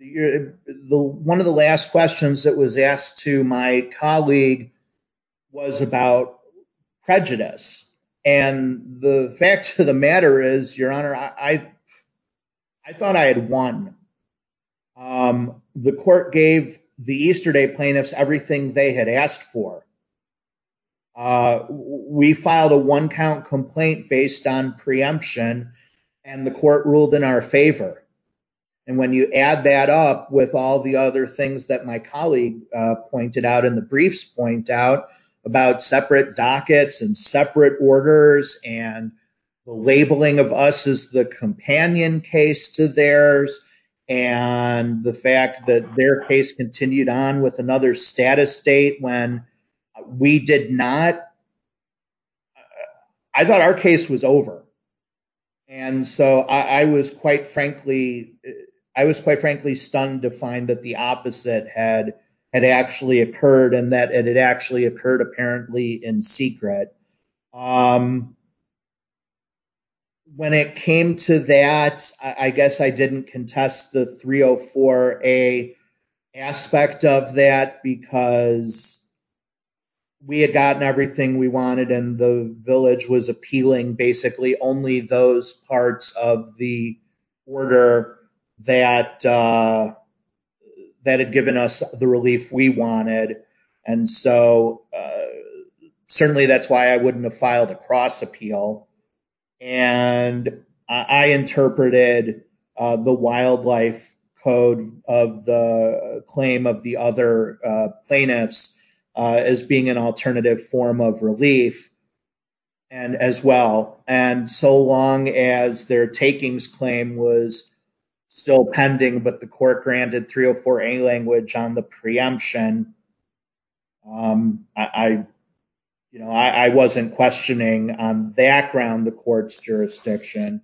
One of the last questions that was asked to my colleague was about prejudice. And the facts of the matter is, Your Honor, I thought I had won. The court gave the Easterday plaintiffs everything they had asked for. We filed a one-count complaint based on preemption and the court ruled in our favor. And when you add that up with all the other things that my colleague pointed out in the briefs point out about separate dockets and separate orders and the labeling of us as the companion case to theirs and the fact that their case continued on with another status state when we did not, I thought our case was over. And so I was quite frankly, I was quite frankly stunned to find that the opposite had actually occurred and that it actually occurred apparently in secret. And when it came to that, I guess I didn't contest the 304A aspect of that because we had gotten everything we wanted and the village was appealing basically only those parts of the order that had given us the relief we wanted. And so certainly that's why I wouldn't have filed a cross appeal and I interpreted the wildlife code of the claim of the other plaintiffs as being an alternative form of relief and as well. And so long as their takings claim was still pending but the court granted 304A language on the preemption, I wasn't questioning on background the court's jurisdiction.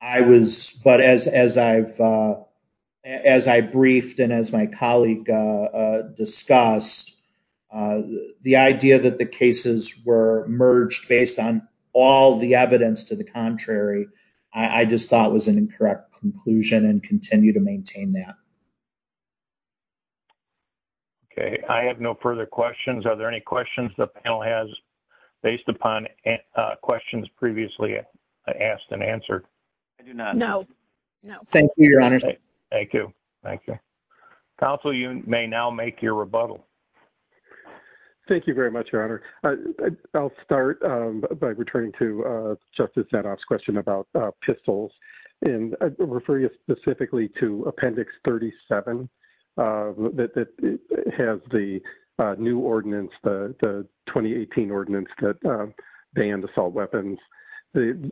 I was, but as I've, as I briefed and as my colleague discussed, the idea that the cases were merged based on all the evidence to the contrary, I just thought it was an incorrect conclusion and continue to maintain that. I have no further questions. Are there any questions the panel has based upon questions previously asked and answered? No, no. Thank you, Your Honor. Thank you. Thank you. Counsel, you may now make your rebuttal. Thank you very much, Your Honor. I'll start by returning to Justice Zedoff's question about pistols and refer you specifically to appendix 37 that has the new ordinance, the 2018 ordinance that banned assault weapons. There's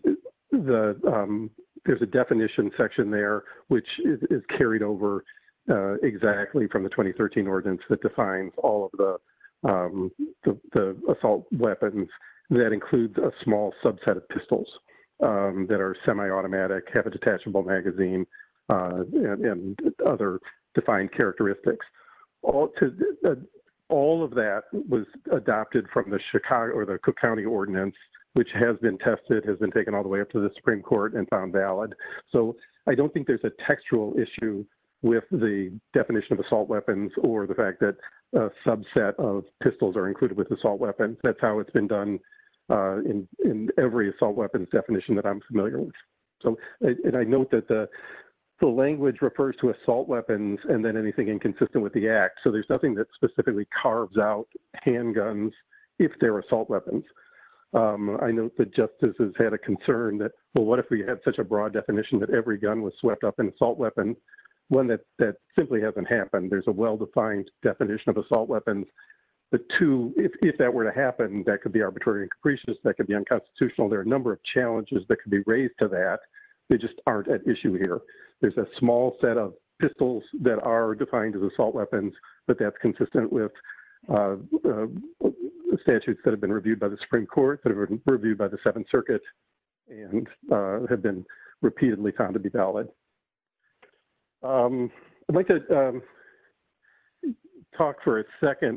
a definition section there which is carried over exactly from the 2013 ordinance that defines all of the assault weapons that includes a small subset of pistols that are semi-automatic, have a detachable magazine and other defined characteristics. All of that was adopted from the Cook County ordinance which has been tested, has been taken all the way up to the Supreme Court and found valid. So I don't think there's a textual issue with the definition of assault weapons or the fact that a subset of pistols are included with assault weapons. That's how it's been done in every assault weapons definition that I'm familiar with. So I note that the language refers to assault weapons and then anything inconsistent with the act. So there's nothing that specifically carves out handguns if they're assault weapons. I know that Justice has had a concern that what if we had such a broad definition that every gun was swept up in assault weapons? One, that simply hasn't happened. There's a well-defined definition of assault weapons. The two, if that were to happen, that could be arbitrary incursions, that could be unconstitutional. There are a number of challenges that could be raised to that. They just aren't at issue here. There's a small set of pistols that are defined as assault weapons, but that's consistent with the statutes that have been reviewed by the Supreme Court, that have been reviewed by the Seventh Circuit, and have been repeatedly found to be valid.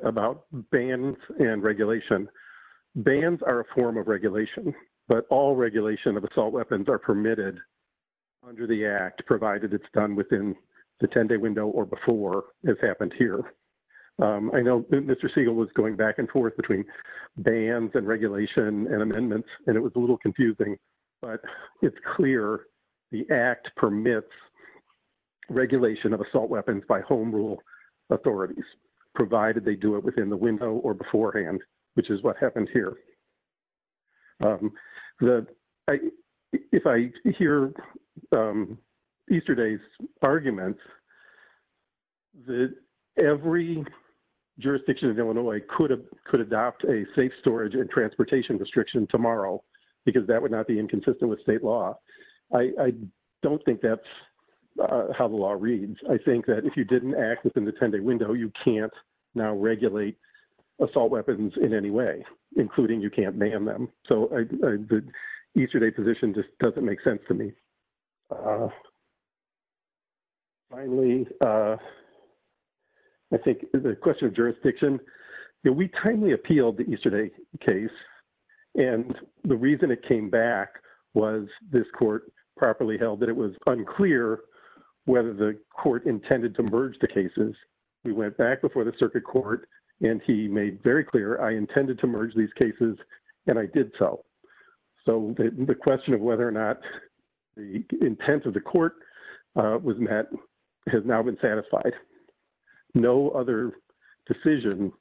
about bans and regulation. Bans are a form of regulation, but all regulation of assault weapons are permitted under the Act, provided it's done within the 10-day window or before, as happened here. I know Mr. Siegel was going back and forth between bans and regulation and amendments, and it was a little confusing, but it's clear the Act permits regulation of assault weapons by home rule authorities, provided they do it within the window or beforehand, which is what happened here. If I hear Easterday's argument, that every jurisdiction of Illinois could adopt a safe storage and transportation restriction tomorrow, because that would not be inconsistent with state law, I don't think that's how the law reads. I think that if you didn't act within the 10-day window, you can't now regulate assault weapons in any way, including you can't ban them. So the Easterday position just doesn't make sense to me. Finally, I think the question of jurisdiction, we kindly appealed the Easterday case, and the reason it came back was this court properly held that it was unclear whether the court intended to merge the cases. We went back before the circuit court, and he made very clear I intended to merge these cases, and I did so. So the question of whether or not the intent of the court was met has now been satisfied. No other decision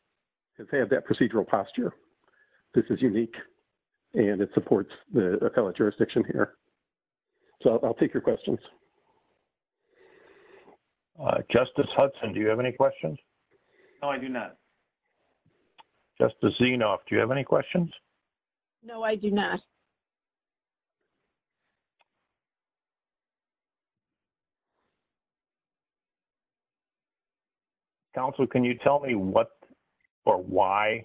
has had that procedural posture. This is unique, and it supports the jurisdiction here. So I'll take your questions. Justice Hudson, do you have any questions? No, I do not. Justice Zinov, do you have any questions? No, I do not. Counsel, can you tell me what or why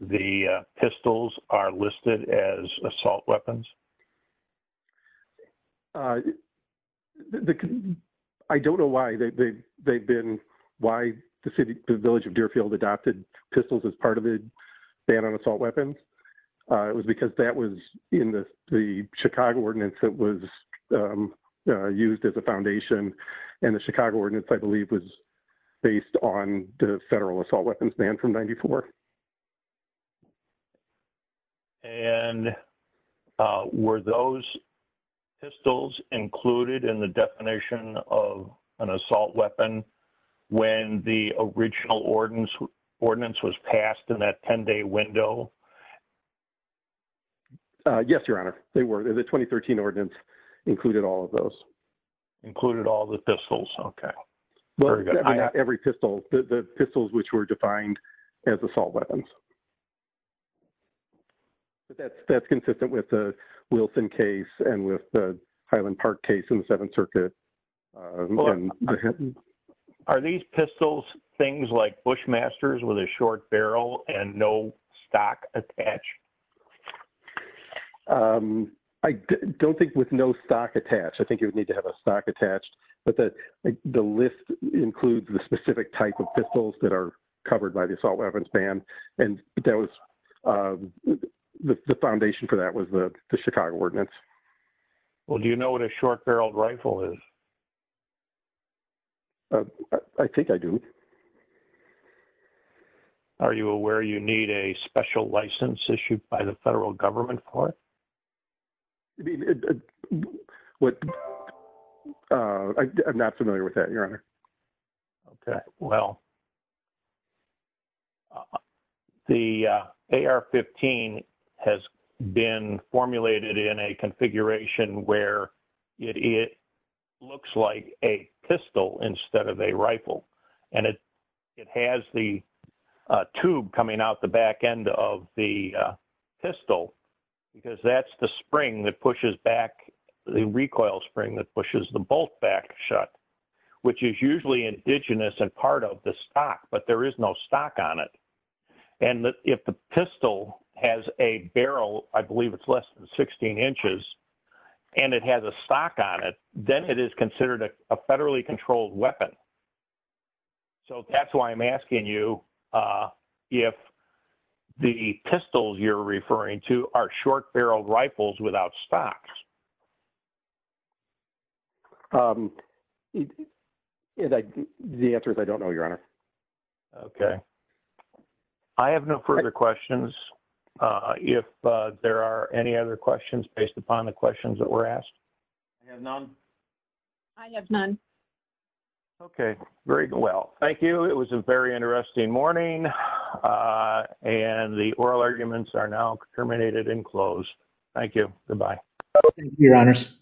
the pistols are listed as assault weapons? I don't know why they've been, why the Village of Deer adopted pistols as part of the ban on assault weapons. It was because that was in the Chicago Ordinance that was used as a foundation, and the Chicago Ordinance, I believe, was based on the federal assault weapons ban from 94. And were those pistols included in the definition of an assault weapon when the original ordinance was passed in that 10-day window? Yes, Your Honor, they were. The 2013 ordinance included all of those. Included all the pistols, okay. Not every pistol, the pistols which were defined as assault weapons. That's consistent with the Wilson case and with the Highland Park case in the Seventh Circuit. Are these pistols things like Bushmasters with a short barrel and no stock attached? I don't think with no stock attached. I think you would need to have a stock attached. But the list includes the specific type of pistols that are covered by the assault weapons ban. And that was the foundation for that was the Chicago Ordinance. Well, do you know what a short-barreled rifle is? I think I do. Are you aware you need a special license issued by the federal government for it? I'm not familiar with that, Your Honor. Okay, well. The AR-15 has been formulated in a configuration where it looks like a pistol instead of a rifle. And it has the tube coming out the back end of the pistol because that's the spring that pushes back the recoil spring that pushes the bolt back shut, which is usually indigenous and part of the stock, but there is no stock on it. And if the pistol has a barrel, I believe it's less than 16 inches, and it has a stock on it, then it is considered a federally controlled weapon. So that's why I'm asking you if the pistols you're referring to are short-barreled rifles without stocks. The answer is I don't know, Your Honor. Okay, I have no further questions. If there are any other questions based upon the questions that were asked. You have none? I have none. Okay, very well. Thank you. It was a very interesting morning. And the oral arguments are now terminated and closed. Thank you. Goodbye. Thank you, Your Honors.